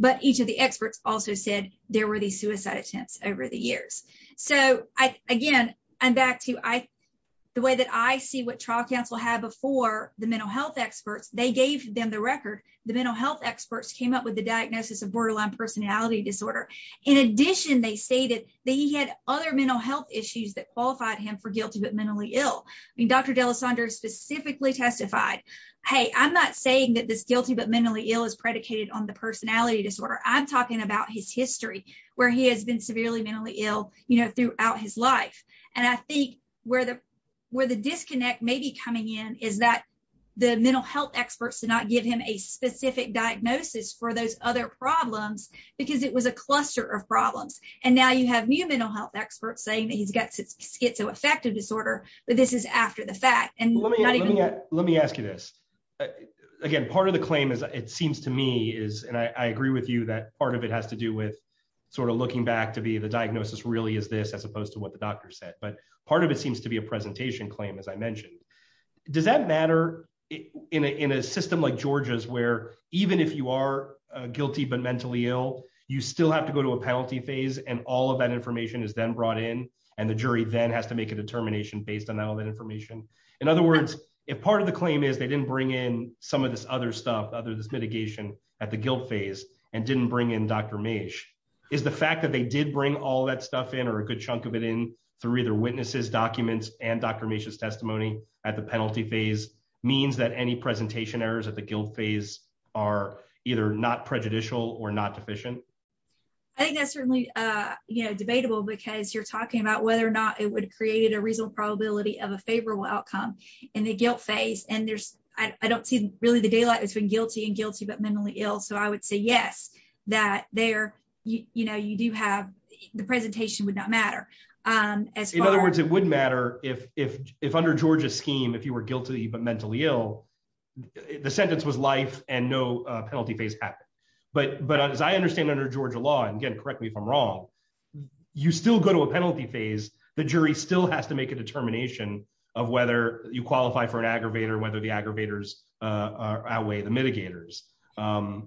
But each of the experts also said there were these suicide attempts over the years. So, again, I'm back to the way that I see what trial counsel had before the mental health experts, they gave them the record. The mental health experts came up with the diagnosis of borderline personality disorder. In addition, they stated that he had other mental health issues that qualified him for guilty but mentally ill. I mean, Dr. D'Alessandro specifically testified, hey, I'm not saying that this guilty but mentally ill is predicated on the personality disorder. I'm talking about his history where he has been severely mentally ill, you know, throughout his life. And I think where the disconnect may be coming in is that the mental health experts did not give him a specific diagnosis for those other problems because it was a cluster of problems. And now you have new mental health experts saying that he's got schizoaffective disorder, but this is after the fact. Let me ask you this. Again, part of the claim is, it seems to me is, and I agree with you that part of it has to do with sort of looking back to be the diagnosis really is this as opposed to what the doctor said. But part of it seems to be a presentation claim, as I mentioned. Does that matter in a system like Georgia's where even if you are guilty but mentally ill, you still have to go to a penalty phase and all of that information is then brought in and the jury then has to make a determination based on all that information. In other words, if part of the claim is they didn't bring in some of this other stuff, other this mitigation at the guilt phase and didn't bring in Dr. Meish, is the fact that they did bring all that stuff in or a good chunk of it in through either witnesses, documents, and Dr. Meish's testimony at the penalty phase means that any presentation errors at the guilt phase are either not prejudicial or not deficient? I think that's certainly, you know, debatable because you're talking about whether or not it would have created a reasonable probability of a favorable outcome in the guilt phase. And there's, I don't see really the daylight between guilty and guilty but mentally ill. So I would say yes, that there, you know, you do have the presentation would not matter. In other words, it would matter if under Georgia's scheme, if you were guilty but mentally ill, the sentence was life and no penalty phase happened. But as I understand under Georgia law, and again, correct me if I'm wrong, you still go to a penalty phase, the jury still has to make a determination of whether you qualify for an aggravator, whether the aggravators outweigh the mitigators,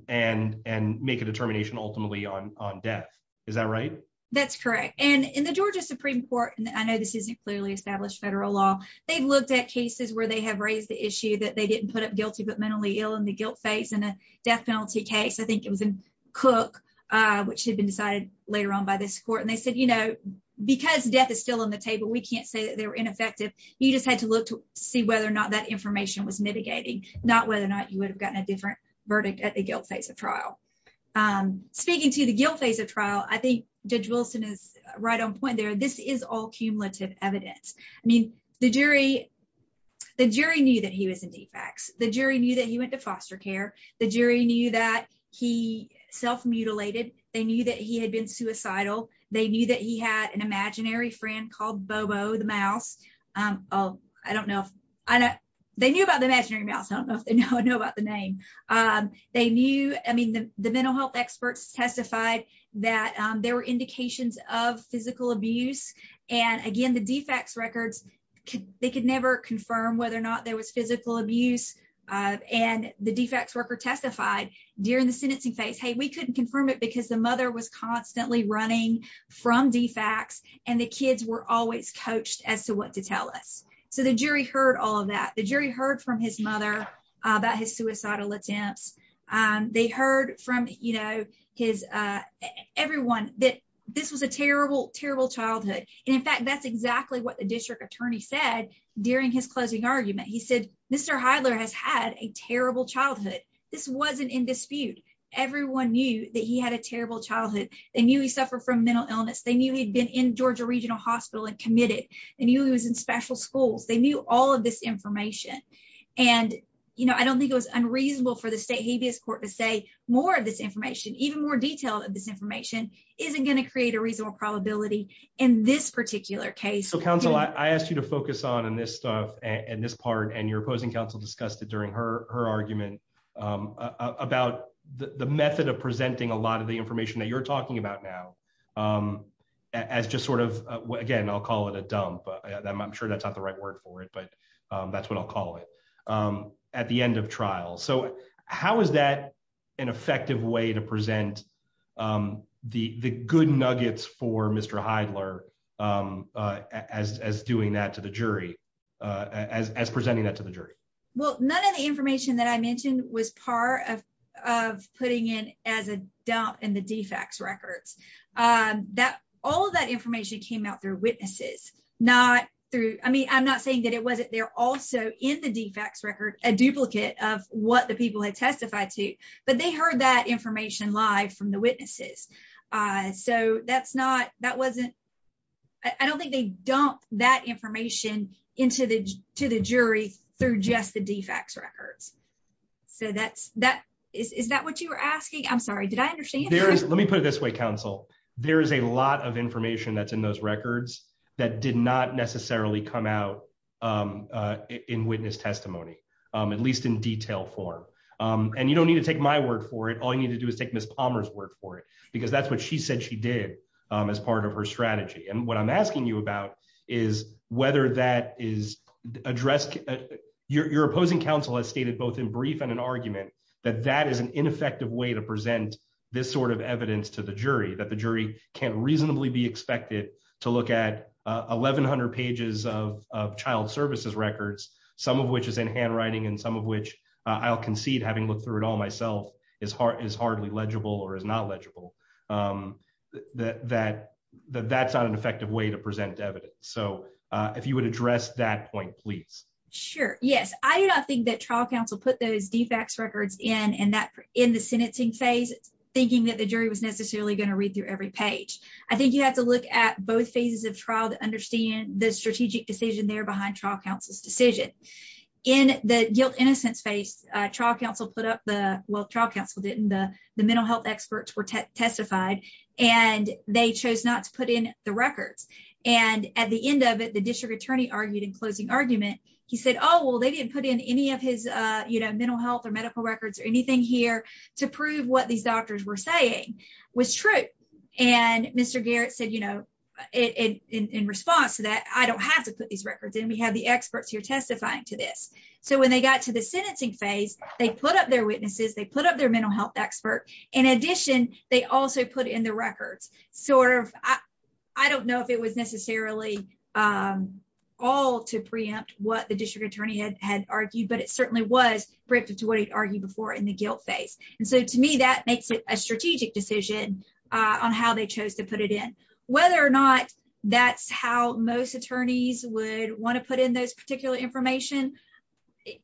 and make a determination ultimately on death. Is that right? That's correct. And in the Georgia Supreme Court, and I know this isn't clearly established federal law, they've looked at cases where they have raised the issue that they didn't put up guilty but mentally ill in the guilt phase and a death penalty case. I think it was in Cook, which had been decided later on by this court. And they said, you know, because death is still on the table, we can't say that they were ineffective. You just had to look to see whether or not that information was mitigating, not whether or not you would have gotten a different verdict at the guilt phase of trial. Speaking to the guilt phase of trial, I think Judge Wilson is right on point there. This is all cumulative evidence. I mean, the jury, the jury knew that he was in defects, the jury knew that he went to foster care, the jury knew that he self mutilated, they knew that he had been suicidal, they knew that he had an imaginary friend called Bobo the mouse. Oh, I don't know if I know, they knew about the imaginary mouse. I don't know if they know about the name. They knew, I mean, the mental health experts testified that there were indications of physical abuse. And again, the defects records, they could never confirm whether or not there was physical abuse. And the defects worker testified during the sentencing phase, hey, we couldn't confirm it because the mother was constantly running from defects. And the kids were always coached as to what to tell us. So the jury heard all of that. The jury heard from his mother about his suicidal attempts. And they heard from you know, his everyone that this was a terrible, terrible childhood. And in fact, that's exactly what the district attorney said. During his closing argument, he said, Mr. Heidler has had a terrible childhood. This wasn't in dispute. Everyone knew that he had a terrible childhood. They knew he suffered from mental illness. They knew he'd been in Georgia Regional Hospital and committed. And he was in special schools, they knew all of this for the state habeas court to say more of this information, even more detail of this information isn't going to create a reasonable probability in this particular case. So counsel, I asked you to focus on and this stuff and this part and your opposing counsel discussed it during her argument about the method of presenting a lot of the information that you're talking about now. As just sort of, again, I'll call it a dump. I'm sure that's not the right word for it. But that's what I'll call it at the end of trial. So how is that an effective way to present the good nuggets for Mr. Heidler as doing that to the jury, as presenting that to the jury? Well, none of the information that I mentioned was part of putting in as a dump in the defects records that all of that information came out through witnesses, not through I mean, I'm not saying that it wasn't there also in the defects record, a duplicate of what the people had testified to. But they heard that information live from the witnesses. So that's not that wasn't. I don't think they dump that information into the to the jury through just the defects records. So that's that. Is that what you were asking? I'm sorry. Did I understand? Let me put it this way, counsel. There is a lot of information that's in those records that did not necessarily come out in witness testimony, at least in detail form. And you don't need to take my word for it. All you need to do is take Miss Palmer's word for it, because that's what she said she did as part of her strategy. And what I'm asking you about is whether that is addressed. Your opposing counsel has stated both in brief and an argument that that is an ineffective way to present this sort of evidence to the jury that the jury can reasonably be expected to look at 1100 pages of child services records, some of which is in handwriting and some of which I'll concede having looked through it all myself is hard is hardly legible or is not legible. That that's not an effective way to present evidence. So if you would address that point, please. Sure. Yes. I do not think that trial counsel put those defects records in and that in the sentencing phase, thinking that the jury was necessarily going to read through every page. I think you have to look at both phases of trial to understand the strategic decision there behind trial counsel's decision in the guilt innocence phase. Trial counsel put up the well, trial counsel didn't. The mental health experts were testified and they chose not to put in the records. And at the end of it, the district attorney argued in closing argument. He said, oh, well, they didn't put in any of his mental health or medical records or anything here to prove what these doctors were saying was true. And Mr. Garrett said, you know, in response to that, I don't have to put these records in. We have the experts here testifying to this. So when they got to the sentencing phase, they put up their witnesses, they put up their mental health expert. In addition, they also put in the records sort of. I don't know if it was had argued, but it certainly was briefed to what he'd argued before in the guilt phase. And so to me, that makes it a strategic decision on how they chose to put it in, whether or not that's how most attorneys would want to put in those particular information.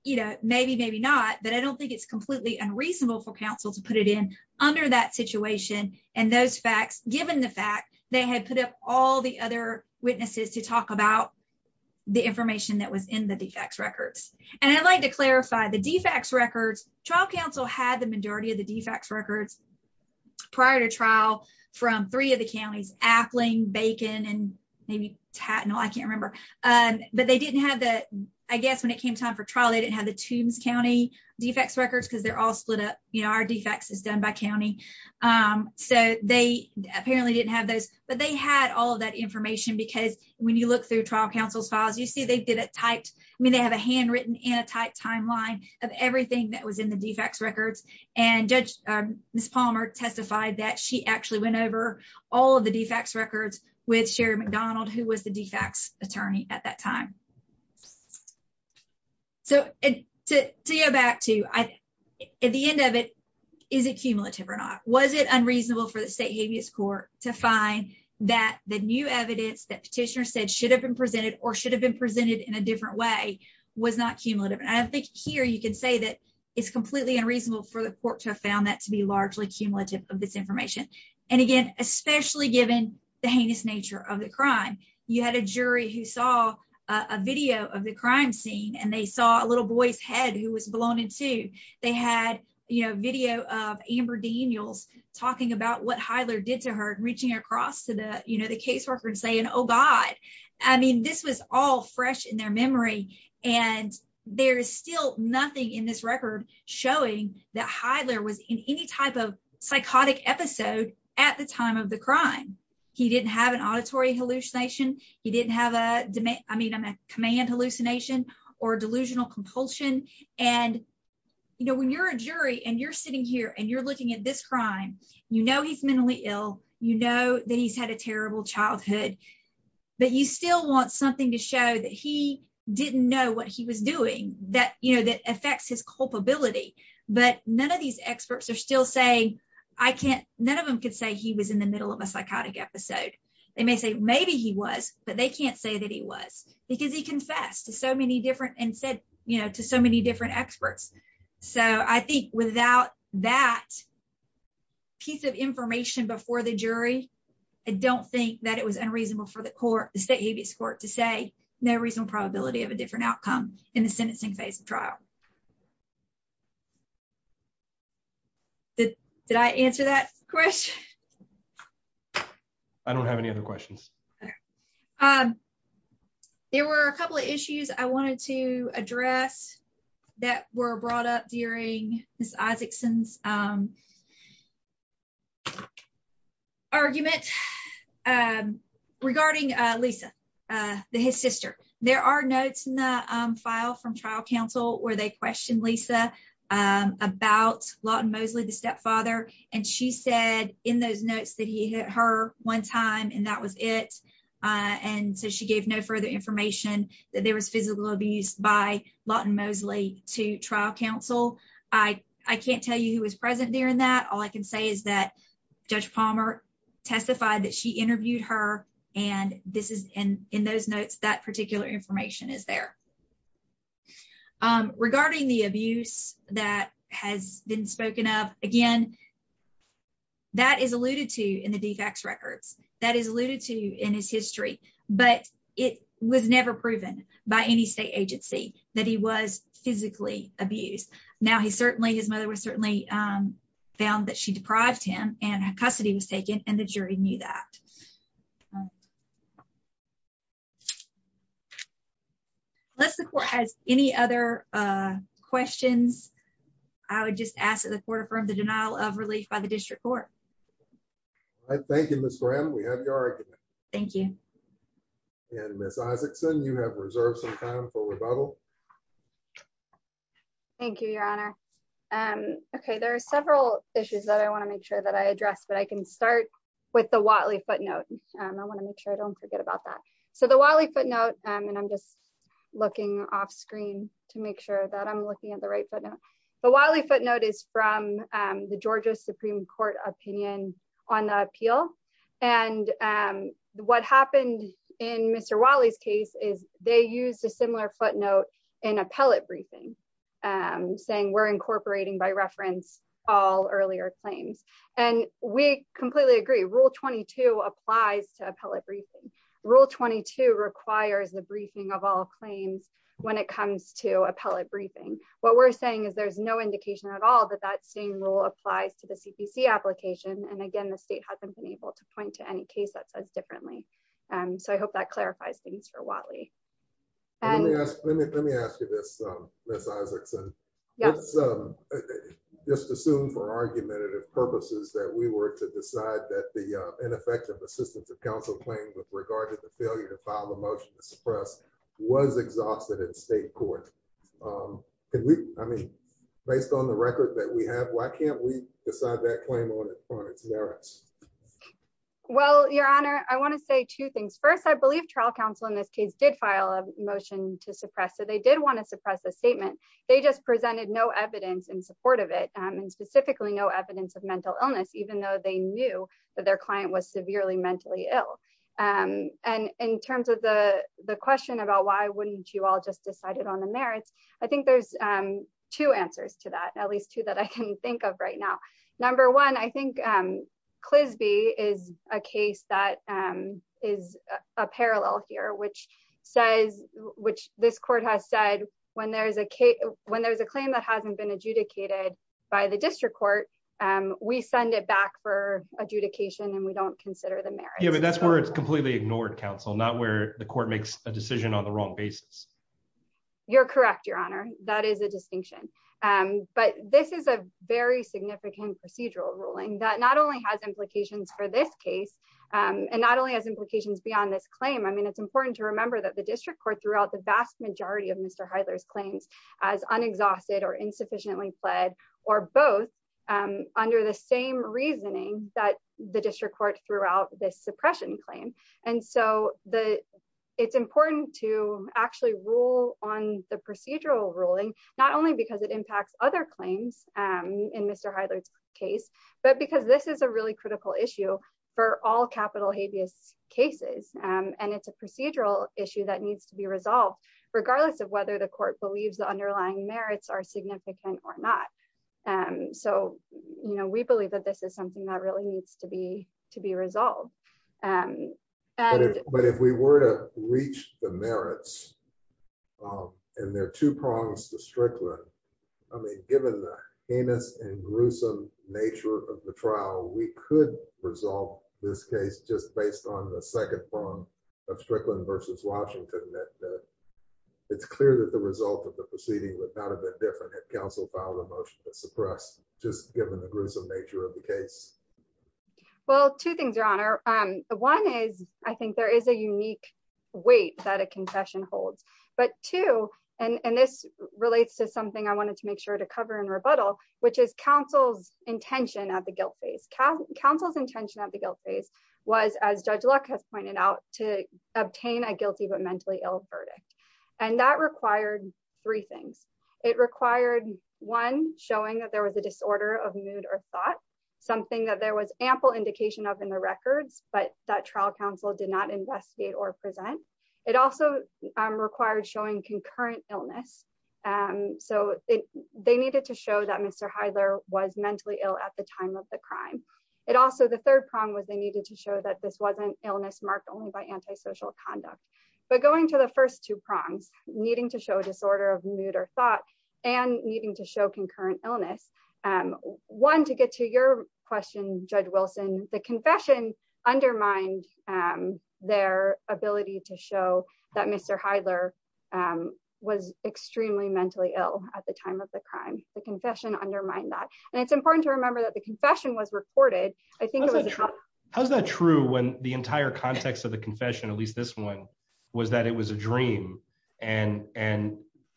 You know, maybe, maybe not, but I don't think it's completely unreasonable for counsel to put it in under that situation. And those facts, given the fact they had put up all the other witnesses to talk about the information that was in the defects records. And I'd like to clarify the defects records. Trial counsel had the majority of the defects records prior to trial from three of the counties, Appling, Bacon, and maybe Tattnall, I can't remember. But they didn't have the, I guess when it came time for trial, they didn't have the Tombs County defects records because they're all split up. You know, our defects is done by county. So they apparently didn't have those, but they had all of that information because when you look through trial counsel's files, you see, they did it tight. I mean, they have a handwritten in a tight timeline of everything that was in the defects records. And Judge, Ms. Palmer testified that she actually went over all of the defects records with Sherry McDonald, who was the defects attorney at that time. So to go back to, at the end of it, is it cumulative or not? Was it unreasonable for the state habeas court to find that the new evidence that petitioner said should have been presented or should have been presented in a different way was not cumulative. And I think here you can say that it's completely unreasonable for the court to have found that to be largely cumulative of this information. And again, especially given the heinous nature of the crime, you had a jury who saw a video of the crime scene and they saw a little boy's head who was blown in two. They had, you know, video of Amber Daniels talking about what Heidler did to her, reaching across to the, you know, the caseworker and saying, Oh God, I mean, this was all fresh in their memory. And there is still nothing in this record showing that Heidler was in any type of psychotic episode at the time of the crime. He didn't have an auditory hallucination. He didn't have a command hallucination or delusional compulsion. And, you know, when you're a jury and you're sitting here and you're looking at this crime, you know, he's mentally ill, you know that he's had a terrible childhood, but you still want something to show that he didn't know what he was doing that, you know, that affects his culpability. But none of these experts are still saying, I can't, none of them could say he was in the middle of a psychotic episode. They may say maybe he was, but they can't say that he was because he confessed to so many different and said, you know, to so many different experts. So I think without that piece of information before the jury, I don't think that it was unreasonable for the court, the state habeas court to say no reasonable probability of a different outcome in the sentencing phase of trial. Did I answer that question? I don't have any other questions. There were a couple of issues I wanted to address that were brought up during Ms. Isaacson's argument regarding Lisa, his sister. There are notes in the file from trial counsel where they questioned Lisa about Lawton Mosley, the stepfather. And she said in those notes that he hit her one time and that was it. And so she gave no further information that there was physical abuse by Lawton Mosley to trial counsel. I can't tell you who was present during that. All I can say is that Judge Palmer testified that she interviewed her and this is in those notes, that particular information is there. Regarding the abuse that has been spoken of again, that is alluded to in the DFACS records, that is alluded to in his history, but it was never proven by any state agency that he was physically abused. Now he certainly, his mother was certainly found that she deprived him and custody was taken and the jury knew that. Unless the court has any other questions, I would just ask that the court affirm the denial of relief by the district court. Thank you, Ms. Graham. We have your argument. Thank you. And Ms. Isaacson, you have reserved some time for rebuttal. Thank you, Your Honor. Okay, there are several issues that I want to make sure that I address, but I can start with the Whatley footnote. I want to make sure I don't forget about that. So the Whatley footnote, and I'm just looking off screen to make sure that I'm looking at the right footnote. The Whatley footnote is from the Georgia Supreme Court opinion on the appeal. And what happened in Mr. Whatley's case is they used a similar footnote in appellate briefing, saying we're incorporating by reference all earlier claims. And we completely agree, Rule 22 applies to appellate briefing. Rule 22 requires the briefing of all claims when it comes to appellate briefing. What we're saying is there's no indication at all that that same rule applies to the CPC application. And again, the state hasn't been able to point to any case that says differently. So I hope that clarifies things for Whatley. Let me ask you this, Ms. Isaacson. Let's just assume for argumentative purposes that we were to decide that the ineffective assistance of counsel claims with regard to the failure to file a motion to suppress was exhausted in state court. I mean, based on the record that we have, why can't we decide that claim on its merits? Well, Your Honor, I want to say two things. First, I believe trial counsel in this case did file a motion to suppress so they did want to suppress a statement. They just presented no evidence in support of it, and specifically no evidence of that their client was severely mentally ill. And in terms of the question about why wouldn't you all just decided on the merits? I think there's two answers to that, at least two that I can think of right now. Number one, I think Clisby is a case that is a parallel here, which says, which this court has said, when there's a case when there's a claim that hasn't been adjudicated by the district court, we send it back for adjudication and we don't consider the merits. Yeah, but that's where it's completely ignored counsel, not where the court makes a decision on the wrong basis. You're correct, Your Honor, that is a distinction. But this is a very significant procedural ruling that not only has implications for this case, and not only has implications beyond this claim. I mean, it's important to remember that the district court the vast majority of Mr. Heidler's claims as unexhausted or insufficiently pled or both under the same reasoning that the district court throughout this suppression claim. And so it's important to actually rule on the procedural ruling, not only because it impacts other claims in Mr. Heidler's case, but because this is a really critical issue for all capital habeas cases. And it's a procedural issue that needs to be resolved, regardless of whether the court believes the underlying merits are significant or not. And so, you know, we believe that this is something that really needs to be to be resolved. But if we were to reach the merits, and there are two prongs to Strickland, I mean, given the heinous and gruesome nature of the trial, we could resolve this case just based on the second prong of Strickland versus Washington, that it's clear that the result of the proceeding would not have been different if counsel filed a motion to suppress just given the gruesome nature of the case. Well, two things, Your Honor. One is, I think there is a unique weight that a confession holds. But two, and this relates to something I wanted to make sure to cover in rebuttal, which is counsel's intention at the guilt phase. Counsel's intention at the guilt phase was, as Judge Luck has pointed out, to obtain a guilty but mentally ill verdict. And that required three things. It required, one, showing that there was a disorder of mood or thought, something that there was ample indication of in the records, but that trial counsel did not investigate or present. It also required showing concurrent illness. So they needed to show that Mr. Heidler was mentally ill at the time of the crime. It also, the third prong was they needed to show that this wasn't illness marked only by antisocial conduct. But going to the first two prongs, needing to show disorder of mood or thought, and needing to show concurrent illness. One, to get to your question, Judge Wilson, the confession undermined their ability to show that Mr. Heidler was extremely mentally ill at the time of the crime. The confession undermined that. And it's important to remember that the confession was recorded. I think it was- How's that true when the entire context of the confession, at least this one, was that it was a dream and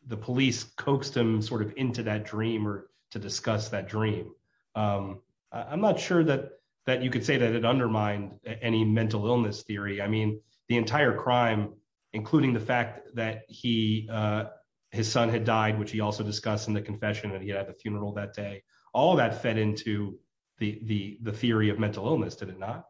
the police coaxed him into that dream or to discuss that dream. I'm not sure that you could say that it undermined any mental illness theory. The entire crime, including the fact that his son had died, which he also discussed in the confession and he had a funeral that day, all of that fed into the theory of mental illness, did it not?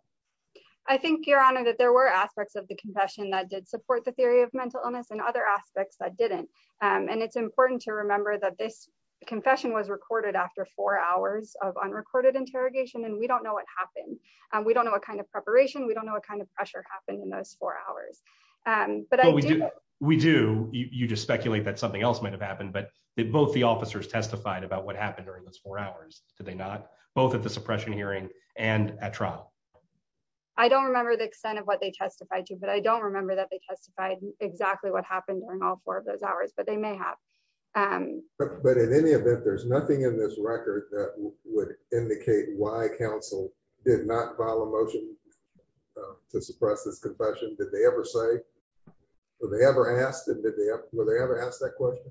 I think, Your Honor, that there were aspects of the confession that did support the theory of mental illness and other aspects that didn't. And it's important to remember that this confession was recorded after four hours of unrecorded interrogation, and we don't know what happened. We don't know what kind of preparation, we don't know what kind of pressure happened in those four hours. But I do know- We do. You just speculate that something else might have happened, but both the officers testified about what happened during those four hours, did they not? Both at the suppression hearing and at trial. I don't remember the extent of what they testified to, I don't remember that they testified exactly what happened during all four of those hours, but they may have. But in any event, there's nothing in this record that would indicate why counsel did not file a motion to suppress this confession. Did they ever say, were they ever asked that question?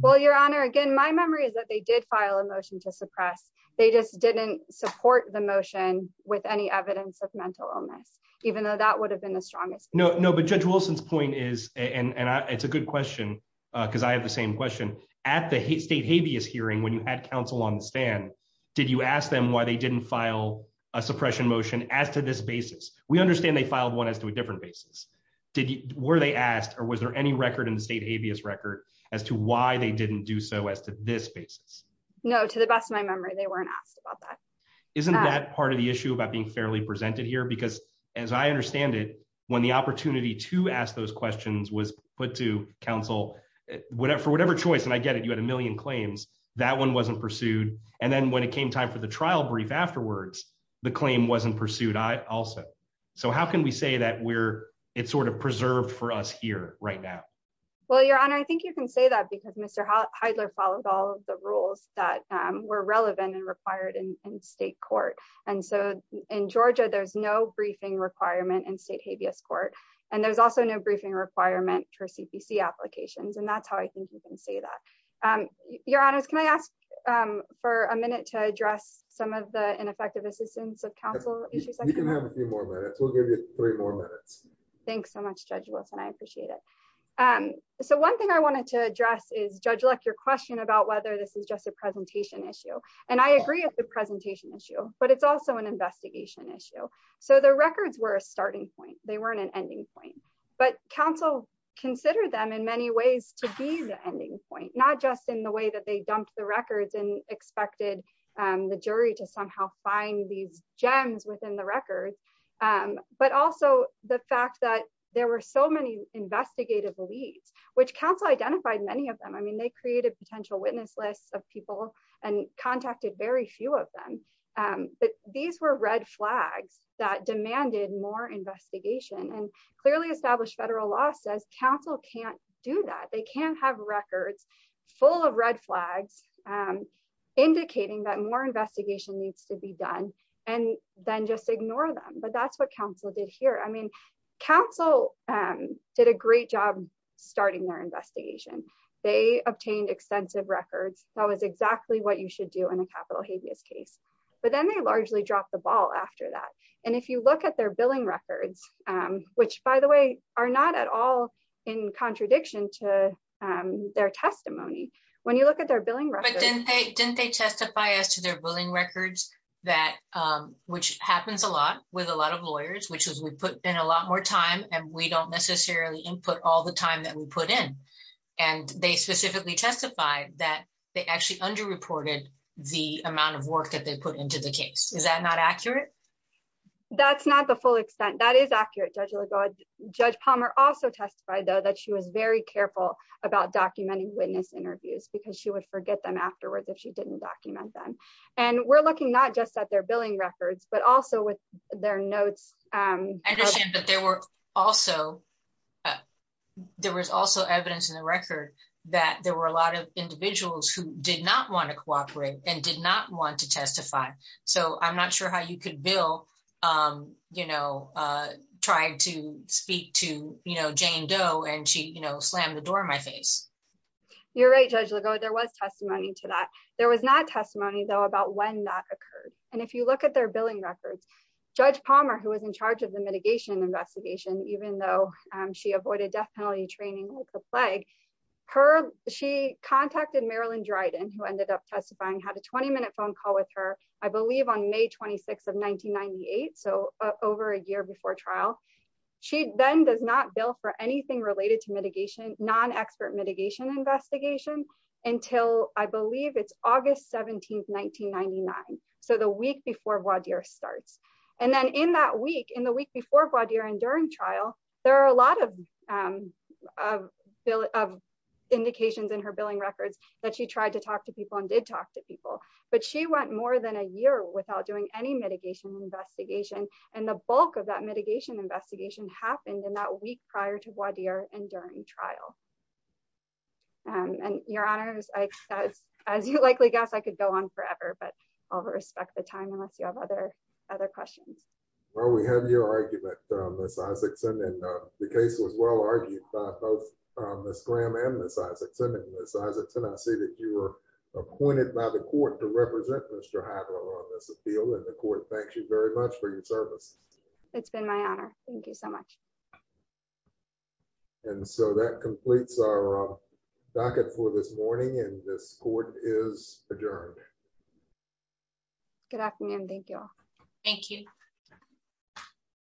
Well, Your Honor, again, my memory is that they did file a motion to suppress. They just didn't support the motion with any evidence of mental illness, even though that would have been the strongest. No, but Judge Wilson's point is, and it's a good question, because I have the same question. At the state habeas hearing, when you had counsel on the stand, did you ask them why they didn't file a suppression motion as to this basis? We understand they filed one as to a different basis. Were they asked, or was there any record in the state habeas record as to why they didn't do so as to this basis? No, to the best of my memory, they weren't asked about that. Isn't that part of the issue about being fairly presented here? Because as I understand it, when the opportunity to ask those questions was put to counsel, for whatever choice, and I get it, you had a million claims, that one wasn't pursued. And then when it came time for the trial brief afterwards, the claim wasn't pursued also. So how can we say that it's sort of preserved for us here right now? Well, Your Honor, I think you can say that because Mr. Heidler followed all of the rules that were relevant and required in state court. And so in Georgia, there's no briefing requirement in state habeas court. And there's also no briefing requirement for CPC applications. And that's how I think you can say that. Your Honor, can I ask for a minute to address some of the ineffective assistance of counsel? You can have a few more minutes. We'll give you three more minutes. Thanks so much, Judge Wilson. I appreciate it. So one thing I wanted to address is, Judge Luck, your question about whether this is just a presentation issue. And I agree with the but it's also an investigation issue. So the records were a starting point, they weren't an ending point. But counsel considered them in many ways to be the ending point, not just in the way that they dumped the records and expected the jury to somehow find these gems within the record. But also the fact that there were so many investigative leads, which counsel identified many of them, I mean, they created potential witness lists of people and contacted very few of them. But these were red flags that demanded more investigation and clearly established federal law says counsel can't do that. They can't have records full of red flags, indicating that more investigation needs to be done, and then just ignore them. But that's what counsel did here. I mean, counsel did a great job starting their investigation, they obtained extensive records, that was exactly what you should do in a capital habeas case. But then they largely dropped the ball after that. And if you look at their billing records, which, by the way, are not at all in contradiction to their testimony, when you look at their billing record, then they didn't they testify as to their billing records, that which happens a lot with a lot of lawyers, which is we put in a lot more time, and we don't necessarily input all the time that we put in. And they specifically testified that they actually underreported the amount of work that they put into the case. Is that not accurate? That's not the full extent. That is accurate, Judge Lagoa. Judge Palmer also testified, though, that she was very careful about documenting witness interviews, because she would forget them afterwards if she didn't document them. And we're looking not just at their billing records, but also with their notes. I understand, but there was also evidence in the record that there were a lot of individuals who did not want to cooperate and did not want to testify. So I'm not sure how you could bill, you know, trying to speak to, you know, Jane Doe, and she, you know, slammed the door in my face. You're right, Judge Lagoa, there was testimony to that. There was not testimony, though, about when that occurred. And if you look at their billing records, Judge Palmer, who was in charge of the mitigation investigation, even though she avoided death penalty training with the plague, her, she contacted Marilyn Dryden, who ended up testifying, had a 20-minute phone call with her, I believe on May 26 of 1998. So over a year before trial. She then does not bill for anything related to mitigation, non-expert mitigation investigation, until I believe it's August 17th, 1999. So the week before voir dire starts. And then in that week, in the week before voir dire and during trial, there are a lot of, of, of indications in her billing records that she tried to talk to people and did talk to people. But she went more than a year without doing any mitigation investigation. And the bulk of that mitigation investigation happened in that week prior to voir dire and during trial. And Your Honors, as you likely guessed, I could go on forever, but I'll respect the time unless you have other, other questions. Well, we have your argument, Ms. Isakson. And the case was well argued by both Ms. Graham and Ms. Isakson. And Ms. Isakson, I see that you were appointed by the court to represent Mr. Hagler on this appeal. And the court thanks you very much for your service. It's been my honor. Thank you so much. And so that completes our this morning and this court is adjourned. Good afternoon. Thank you all. Thank you.